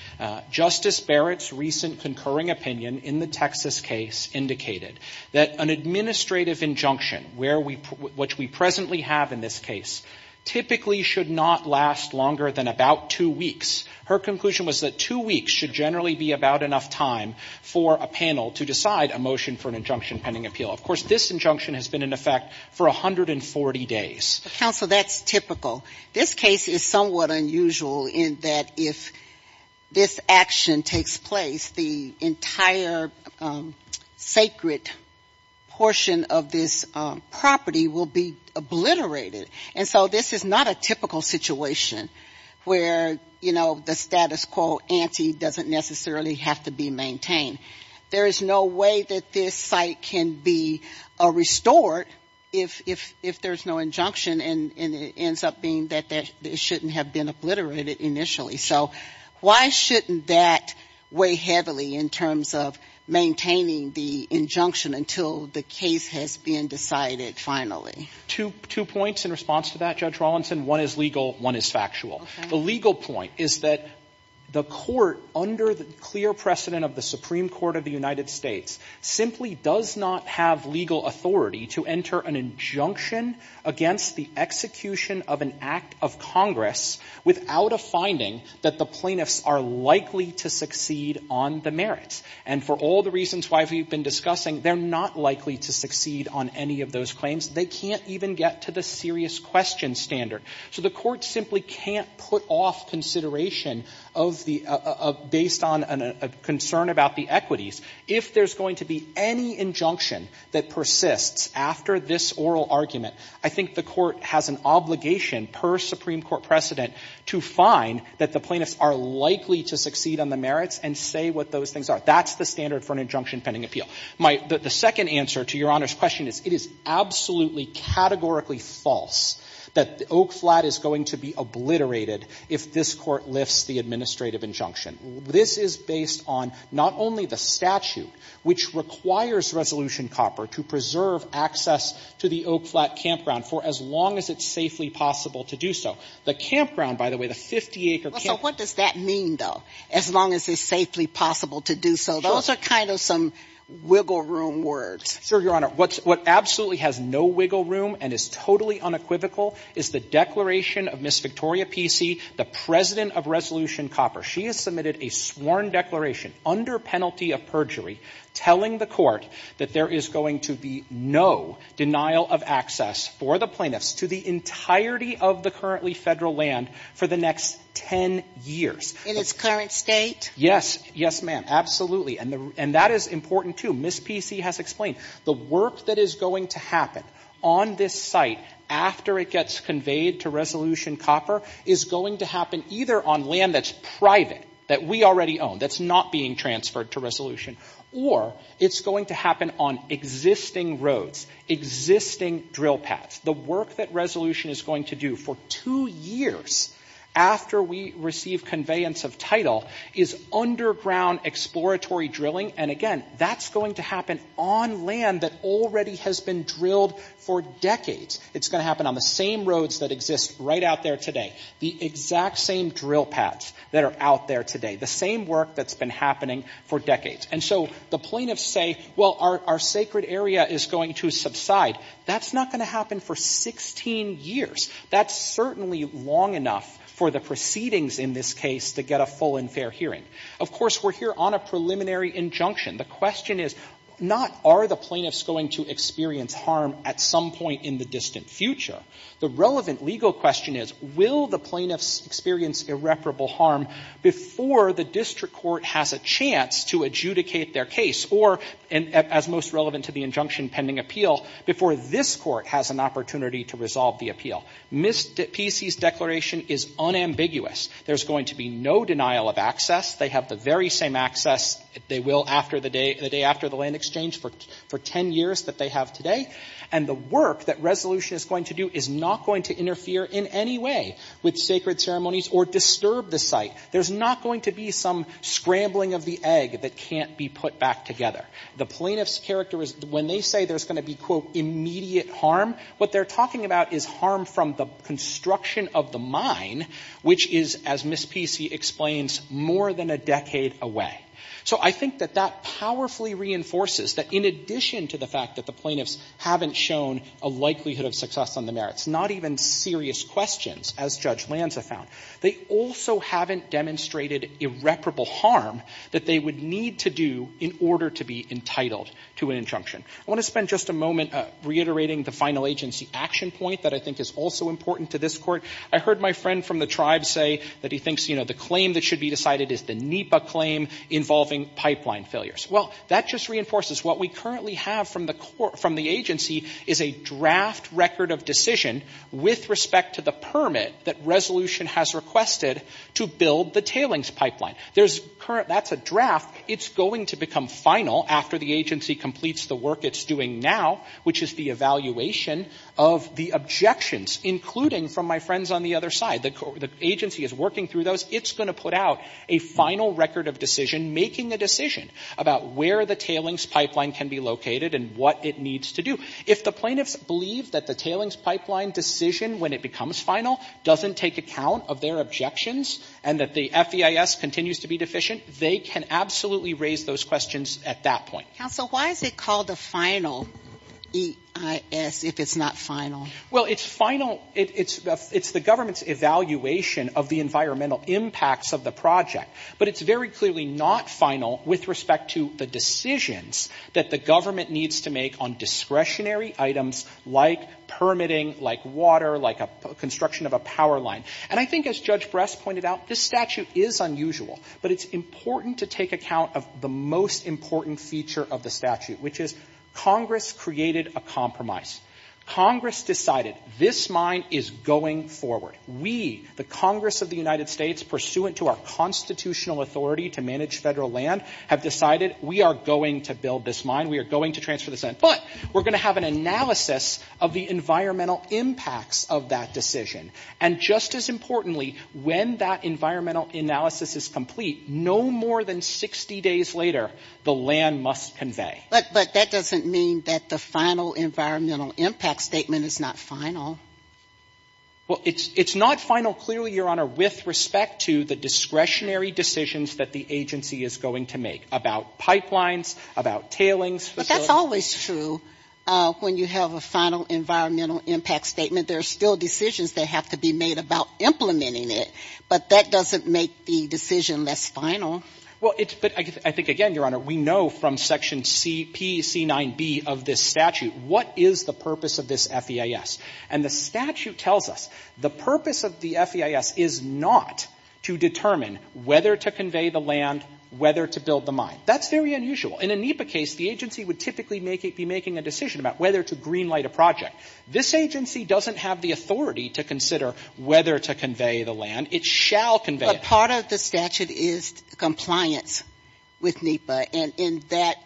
Justice Barrett's recent concurring opinion in the Texas case indicated that an administrative injunction, where we — which we presently have in this case, typically should not last longer than about two weeks. Her conclusion was that two weeks should generally be about enough time for a panel to decide a motion for an injunction-pending appeal. Of course, this injunction has been in effect for 140 days. But, counsel, that's typical. This case is somewhat unusual in that if this action takes place, the entire sacred portion of this property will be obliterated. And so this is not a typical situation where, you know, the status quo ante doesn't necessarily have to be maintained. There is no way that this site can be restored if there's no injunction and it ends up being that it shouldn't have been obliterated initially. So why shouldn't that weigh heavily in terms of maintaining the injunction until the case has been decided finally? Two points in response to that, Judge Rawlinson. One is legal. One is factual. The legal point is that the Court, under the clear precedent of the Supreme Court of the United States, simply does not have legal authority to enter an injunction against the execution of an act of Congress without a finding that the plaintiffs are likely to succeed on the merits. And for all the reasons why we've been discussing, they're not likely to succeed on any of those claims. They can't even get to the serious question standard. So the Court simply can't put off consideration of the — based on a concern about the equities if there's going to be any injunction that persists after this oral argument. I think the Court has an obligation, per Supreme Court precedent, to find that the plaintiffs are likely to succeed on the merits and say what those things are. That's the standard for an injunction pending appeal. My — the second answer to Your Honor's question is, it is absolutely, categorically false that the Oak Flat is going to be obliterated if this Court lifts the administrative injunction. This is based on not only the statute, which requires Resolution Copper to preserve access to the Oak Flat campground for as long as it's safely possible to do so. The campground, by the way, the 50-acre camp — Well, so what does that mean, though, as long as it's safely possible to do so? Those are kind of some wiggle room words. Sure, Your Honor. What absolutely has no wiggle room and is totally unequivocal is the declaration of Ms. Victoria Pesey, the president of Resolution Copper. She has submitted a sworn declaration under penalty of perjury telling the Court that there is going to be no denial of access for the plaintiffs to the entirety of the currently Federal land for the next 10 years. In its current state? Yes. Yes, ma'am. Absolutely. And the — and that is important, too. Ms. Pesey has explained. The work that is going to happen on this site after it gets conveyed to Resolution Copper is going to happen either on land that's private, that we already own, that's not being transferred to Resolution, or it's going to happen on existing roads, existing drill pads. The work that Resolution is going to do for two years after we receive conveyance of title is underground exploratory drilling. And again, that's going to happen on land that already has been drilled for decades. It's going to happen on the same roads that exist right out there today. The exact same drill pads that are out there today. The same work that's been happening for decades. And so the plaintiffs say, well, our sacred area is going to subside. That's not going to happen for 16 years. That's certainly long enough for the proceedings in this case to get a full and fair hearing. Of course, we're here on a preliminary injunction. The question is not are the plaintiffs going to experience harm at some point in the distant future. The relevant legal question is will the plaintiffs experience irreparable harm before the district court has a chance to adjudicate their case, or as most relevant to the injunction pending appeal, before this court has an opportunity to resolve the appeal. P.C.'s declaration is unambiguous. There's going to be no denial of access. They have the very same access they will the day after the land exchange for 10 years that they have today. And the work that Resolution is going to do is not going to interfere in any way with sacred ceremonies or disturb the site. There's not going to be some scrambling of the egg that can't be put back together. The plaintiffs' character is when they say there's going to be, quote, immediate harm, what they're talking about is harm from the construction of the mine, which is, as Ms. P.C. explains, more than a decade away. So I think that that powerfully reinforces that in addition to the fact that the plaintiffs haven't shown a likelihood of success on the merits, not even serious questions, as Judge Lanza found, they also haven't demonstrated irreparable harm that they would need to do in order to be entitled to an injunction. I want to spend just a moment reiterating the final agency action point that I think is also important to this court. I heard my friend from the tribe say that he thinks, you know, the claim that should be decided is the NEPA claim involving pipeline failures. Well, that just reinforces what we currently have from the agency is a draft record of decision with respect to the permit that resolution has requested to build the tailings pipeline. There's current — that's a draft. It's going to become final after the agency completes the work it's doing now, which is the evaluation of the objections, including from my friends on the other side. The agency is working through those. It's going to put out a final record of decision, making a decision about where the tailings pipeline can be located and what it needs to do. If the plaintiffs believe that the tailings pipeline decision, when it becomes final, doesn't take account of their objections and that the FEIS continues to be deficient, they can absolutely raise those questions at that point. Counsel, why is it called a final EIS if it's not final? Well, it's final — it's the government's evaluation of the environmental impacts of the project. But it's very clearly not final with respect to the decisions that the government needs to make on discretionary items like permitting, like water, like a construction of a power line. And I think, as Judge Brest pointed out, this statute is unusual. But it's important to take account of the most important feature of the statute, which is Congress created a compromise. Congress decided this mine is going forward. We, the Congress of the United States, pursuant to our constitutional authority to manage Federal land, have decided we are going to build this mine. We are going to transfer this land. But we're going to have an analysis of the environmental impacts of that decision. And just as importantly, when that environmental analysis is complete, no more than 60 days later, the land must convey. But that doesn't mean that the final environmental impact statement is not final. Well, it's not final, clearly, Your Honor, with respect to the discretionary decisions that the agency is going to make about pipelines, about tailings facilities. But that's always true when you have a final environmental impact statement. There are still decisions that have to be made about implementing it. But that doesn't make the decision less final. Well, it's, but I think, again, Your Honor, we know from Section C, P, C9B of this statute what is the purpose of this FEIS. And the statute tells us the purpose of the FEIS is not to determine whether to convey the land, whether to build the mine. That's very unusual. In a NEPA case, the agency would typically make it, be making a decision about whether to green light a project. This agency doesn't have the authority to consider whether to convey the land. It shall convey it. But part of the statute is compliance with NEPA. And in that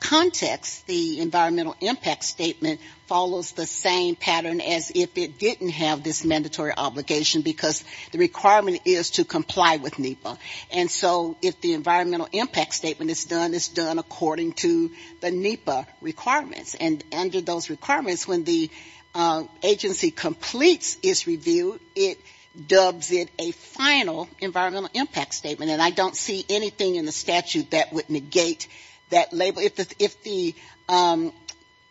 context, the environmental impact statement follows the same pattern as if it didn't have this mandatory obligation, because the requirement is to comply with NEPA. And so if the environmental impact statement is done, it's done according to the NEPA requirements. And under those requirements, when the agency completes its review, it dubs it a final environmental impact statement. And I don't see anything in the statute that would negate that label. If the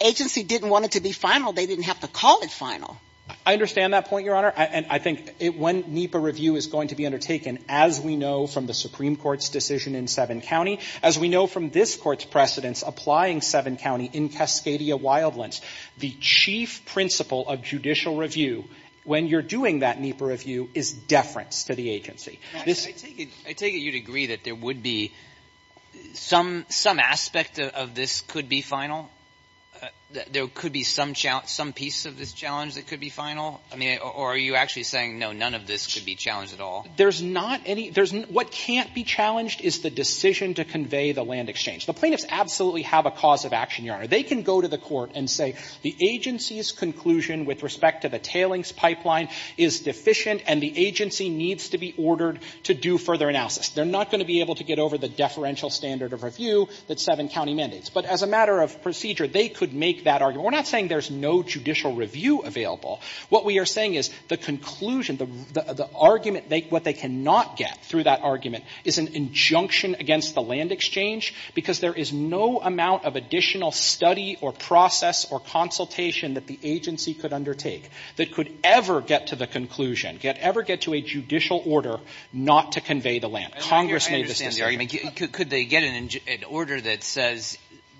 agency didn't want it to be final, they didn't have to call it final. I understand that point, Your Honor. And I think when NEPA review is going to be undertaken, as we know from the Supreme Court's decision in Sevin County, as we know from this Court's precedents applying Sevin County in Cascadia Wildlands, the chief principle of judicial review when you're doing that NEPA review is deference to the agency. I take it you'd agree that there would be some aspect of this could be final? There could be some piece of this challenge that could be final? Or are you actually saying, no, none of this could be challenged at all? There's not any. What can't be challenged is the decision to convey the land exchange. The plaintiffs absolutely have a cause of action, Your Honor. They can go to the court and say, the agency's conclusion with respect to the tailings pipeline is deficient and the agency needs to be ordered to do further analysis. They're not going to be able to get over the deferential standard of review that Sevin County mandates. But as a matter of procedure, they could make that argument. We're not saying there's no judicial review available. What we are saying is the conclusion, the argument, what they cannot get through that argument is an injunction against the land exchange because there is no amount of additional study or process or consultation that the agency could undertake that could ever get to the conclusion, could ever get to a judicial order not to convey the land. Congress made this decision. I understand, Your Honor. Could they get an order that says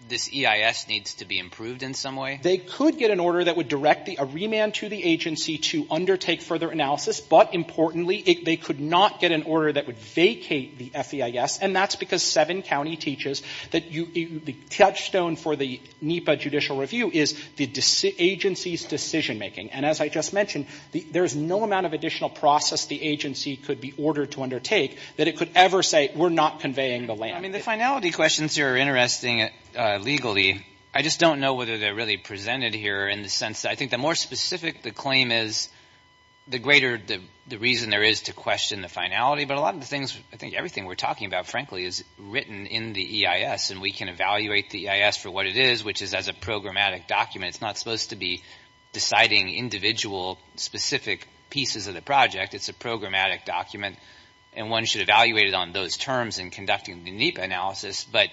this EIS needs to be improved in some way? They could get an order that would direct a remand to the agency to undertake further analysis. But importantly, they could not get an order that would vacate the FEIS. And that's because Sevin County teaches that the touchstone for the NEPA judicial review is the agency's decision making. And as I just mentioned, there is no amount of additional process the agency could be ordered to undertake that it could ever say we're not conveying the land. I mean, the finality questions here are interesting legally. I just don't know whether they're really presented here in the sense that I think the more specific the claim is, the greater the reason there is to question the finality. But a lot of the things, I think everything we're talking about, frankly, is written in the EIS. And we can evaluate the EIS for what it is, which is as a programmatic document. It's not supposed to be deciding individual specific pieces of the project. It's a programmatic document. And one should evaluate it on those terms in conducting the NEPA analysis. But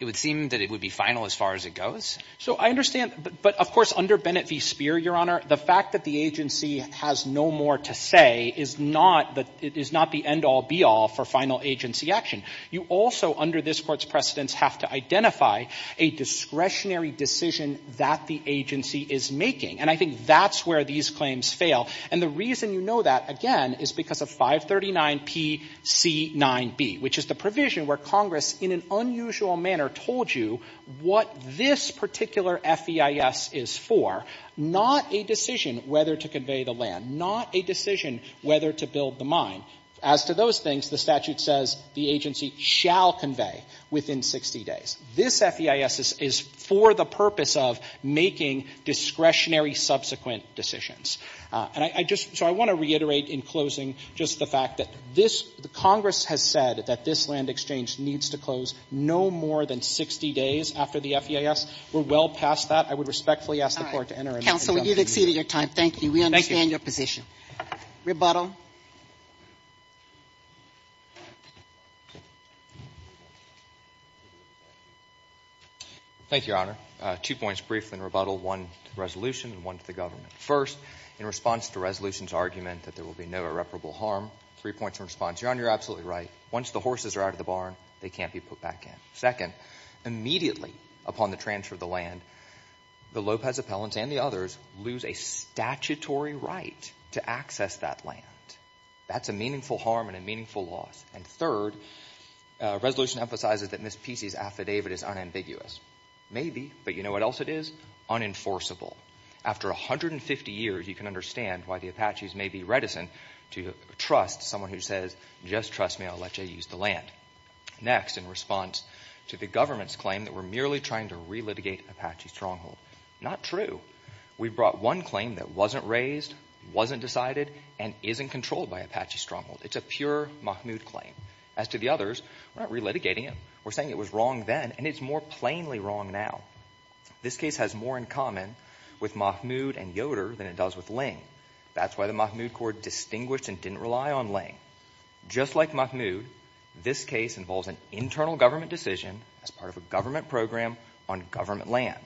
it would seem that it would be final as far as it goes. So I understand. But of course, under Bennett v. Speer, Your Honor, the fact that the agency has no more to say is not the end all, be all for final agency action. You also, under this Court's precedents, have to identify a discretionary decision that the agency is making. And I think that's where these claims fail. And the reason you know that, again, is because of 539Pc9b, which is the provision where Congress in an unusual manner told you what this particular FEIS is for, not a decision whether to convey the land, not a decision whether to build the mine. As to those things, the statute says the agency shall convey within 60 days. This FEIS is for the purpose of making discretionary subsequent decisions. And I just, so I want to reiterate in closing just the fact that this, the Congress has said that this land exchange needs to close no more than 60 days after the FEIS. We're well past that. I would respectfully ask the Court to enter a rebuttal. Counsel, you've exceeded your time. Thank you. We understand your position. Rebuttal. Thank you, Your Honor. Two points briefly in rebuttal, one to the resolution and one to the government. First, in response to resolution's argument that there will be no irreparable harm, three points in response. Your Honor, you're absolutely right. Once the horses are out of the barn, they can't be put back in. Second, immediately upon the transfer of the land, the Lopez appellants and the others lose a statutory right to access that land. That's a meaningful harm and a meaningful loss. And third, resolution emphasizes that Ms. Pesey's affidavit is unambiguous. Maybe, but you know what else it is? Unenforceable. After 150 years, you can understand why the Apaches may be reticent to trust someone who says, just trust me, I'll let you use the land. Next, in response to the government's claim that we're merely trying to relitigate Apache stronghold. Not true. We brought one claim that wasn't raised, wasn't decided, and isn't controlled by Apache stronghold. It's a pure Mahmoud claim. As to the others, we're not relitigating it. We're saying it was wrong then and it's more plainly wrong now. This case has more in common with Mahmoud and Yoder than it does with Ling. That's why the Mahmoud court distinguished and didn't rely on Ling. Just like Mahmoud, this case involves an internal government decision as part of a government program on government land.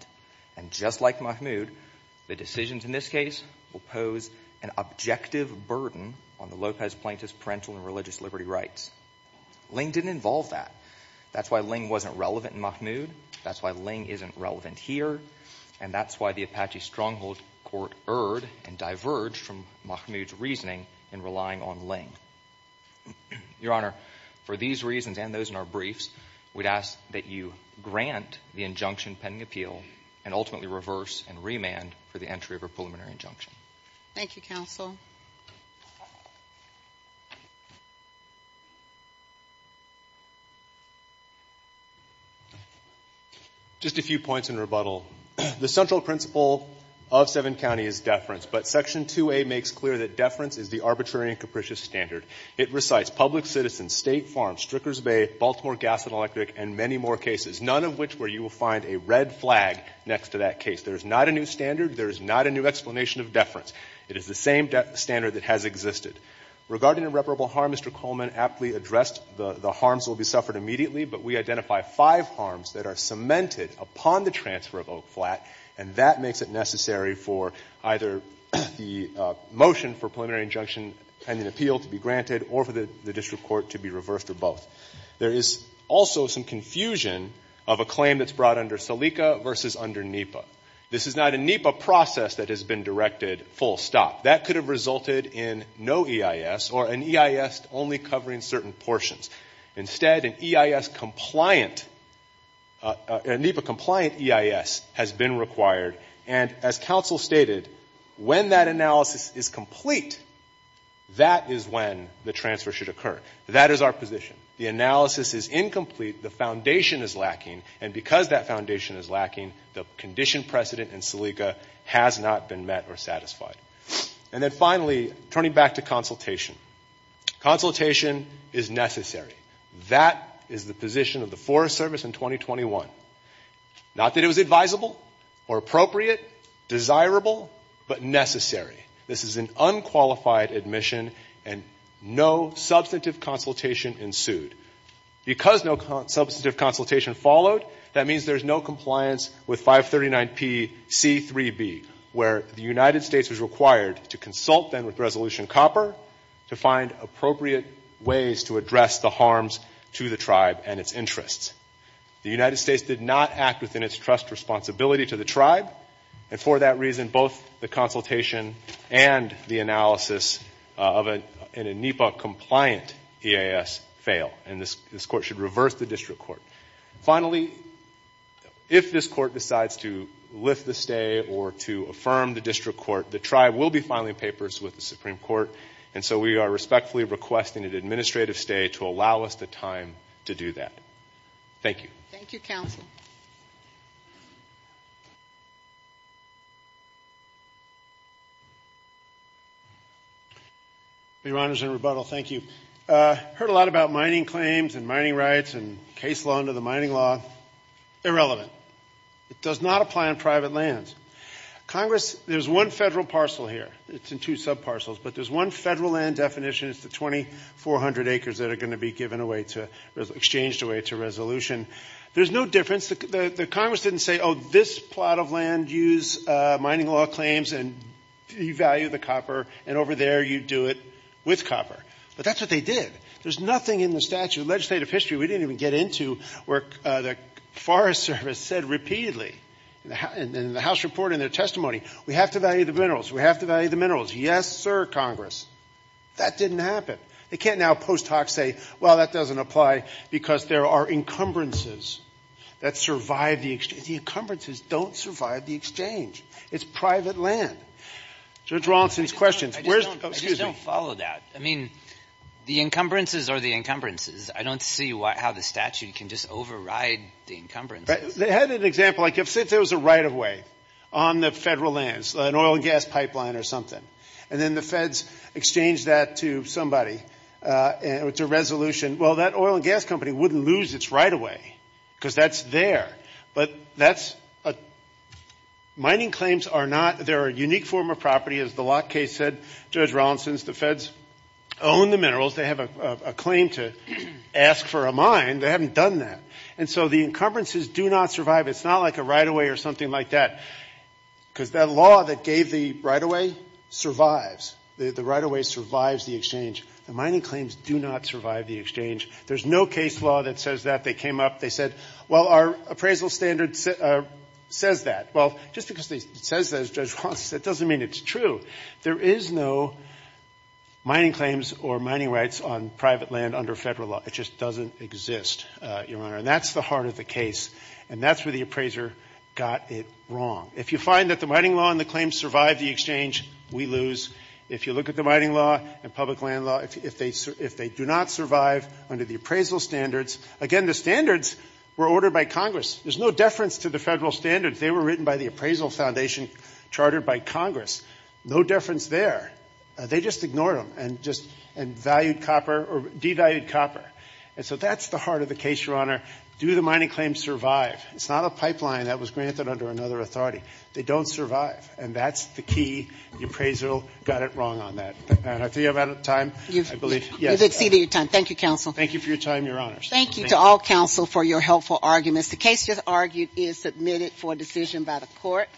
And just like Mahmoud, the decisions in this case will pose an objective burden on the Lopez plaintiff's parental and religious liberty rights. Ling didn't involve that. That's why Ling wasn't relevant in Mahmoud. That's why Ling isn't relevant here. And that's why the Apache stronghold court erred and diverged from Mahmoud's reasoning in relying on Ling. Your Honor, for these reasons and those in our briefs, we'd ask that you grant the injunction pending appeal and ultimately reverse and remand for the entry of a preliminary injunction. Thank you, counsel. Just a few points in rebuttal. The central principle of Seven County is deference, but Section 2A makes clear that deference is the arbitrary and capricious standard. It recites public citizens, state farms, Stricker's Bay, Baltimore Gas and Electric, and many more cases, none of which where you will find a red flag next to that case. There is not a new standard. There is not a new explanation of deference. It is the same standard that has existed. Regarding irreparable harm, Mr. Coleman aptly addressed the harms will be suffered immediately, but we identify five harms that are cemented upon the transfer of Oak Flat, and that makes it necessary for either the motion for preliminary injunction pending appeal to be granted or for the district court to be reversed or both. There is also some confusion of a claim that's brought under Salika versus under NEPA. This is not a NEPA process that has been directed full stop. That could have resulted in no EIS or an EIS only covering certain portions. Instead, an EIS compliant, a NEPA compliant EIS has been required, and as counsel stated, when that analysis is complete, that is when the transfer should occur. That is our position. The analysis is incomplete. The foundation is lacking, and because that foundation is lacking, the condition precedent in Salika has not been met or satisfied. And then finally, turning back to consultation. Consultation is necessary. That is the position of the Forest Service in 2021. Not that it was advisable or appropriate, desirable, but necessary. This is an unqualified admission, and no substantive consultation ensued. Because no substantive consultation followed, that means there's no compliance with 539Pc3b, where the United States was required to consult then with Resolution Copper to find appropriate ways to address the harms to the tribe and its interests. The United States did not act within its trust responsibility to the tribe, and for that reason, both the consultation and the analysis of a NEPA compliant EIS fail, and this court should reverse the district court. Finally, if this court decides to lift the stay or to affirm the district court, the tribe will be filing papers with the Supreme Court, and so we are respectfully requesting an administrative stay to allow us the time to do that. Thank you. Thank you, counsel. Your Honors, in rebuttal, thank you. Heard a lot about mining claims and mining rights and case law under the mining law. Irrelevant. It does not apply on private lands. Congress, there's one federal parcel here. It's in two sub-parcels, but there's one federal land definition. It's the 2,400 acres that are going to be given away to, exchanged away to resolution. There's no difference. The Congress didn't say, oh, this plot of land use mining law claims, and you value the copper, and over there, you do it with copper, but that's what they did. There's nothing in the statute of legislative history we didn't even get into where the Forest Service said repeatedly in the House report and their testimony, we have to value the minerals. We have to value the minerals. Yes, sir, Congress. That didn't happen. They can't now post hoc say, well, that doesn't apply because there are encumbrances. That survived the exchange. The encumbrances don't survive the exchange. It's private land. Judge Rawlinson's questions. Where's the, excuse me. I just don't follow that. I mean, the encumbrances are the encumbrances. I don't see why, how the statute can just override the encumbrances. They had an example, like if, say, there was a right of way on the federal lands, an oil and gas pipeline or something, and then the feds exchanged that to somebody, to resolution. Well, that oil and gas company wouldn't lose its right of way because that's there. But that's a, mining claims are not, they're a unique form of property. As the Locke case said, Judge Rawlinson's, the feds own the minerals. They have a claim to ask for a mine. They haven't done that. And so the encumbrances do not survive. It's not like a right of way or something like that because that law that gave the right of way survives. The right of way survives the exchange. The mining claims do not survive the exchange. There's no case law that says that. They came up, they said, well, our appraisal standard says that. Well, just because it says that, as Judge Rawlinson said, doesn't mean it's true. There is no mining claims or mining rights on private land under federal law. It just doesn't exist, Your Honor. And that's the heart of the case. And that's where the appraiser got it wrong. If you find that the mining law and the claims survive the exchange, we lose. If you look at the mining law and public land law, if they do not survive under the appraisal standards, again, the standards were ordered by Congress. There's no deference to the federal standards. They were written by the Appraisal Foundation, chartered by Congress. No deference there. They just ignored them and just valued copper or devalued copper. And so that's the heart of the case, Your Honor. Do the mining claims survive? It's not a pipeline that was granted under another authority. They don't survive. And that's the key. The appraisal got it wrong on that. And I think I'm out of time, I believe. Yes. You've exceeded your time. Thank you, counsel. Thank you for your time, Your Honors. Thank you to all counsel for your helpful arguments. The case just argued is submitted for decision by the Court.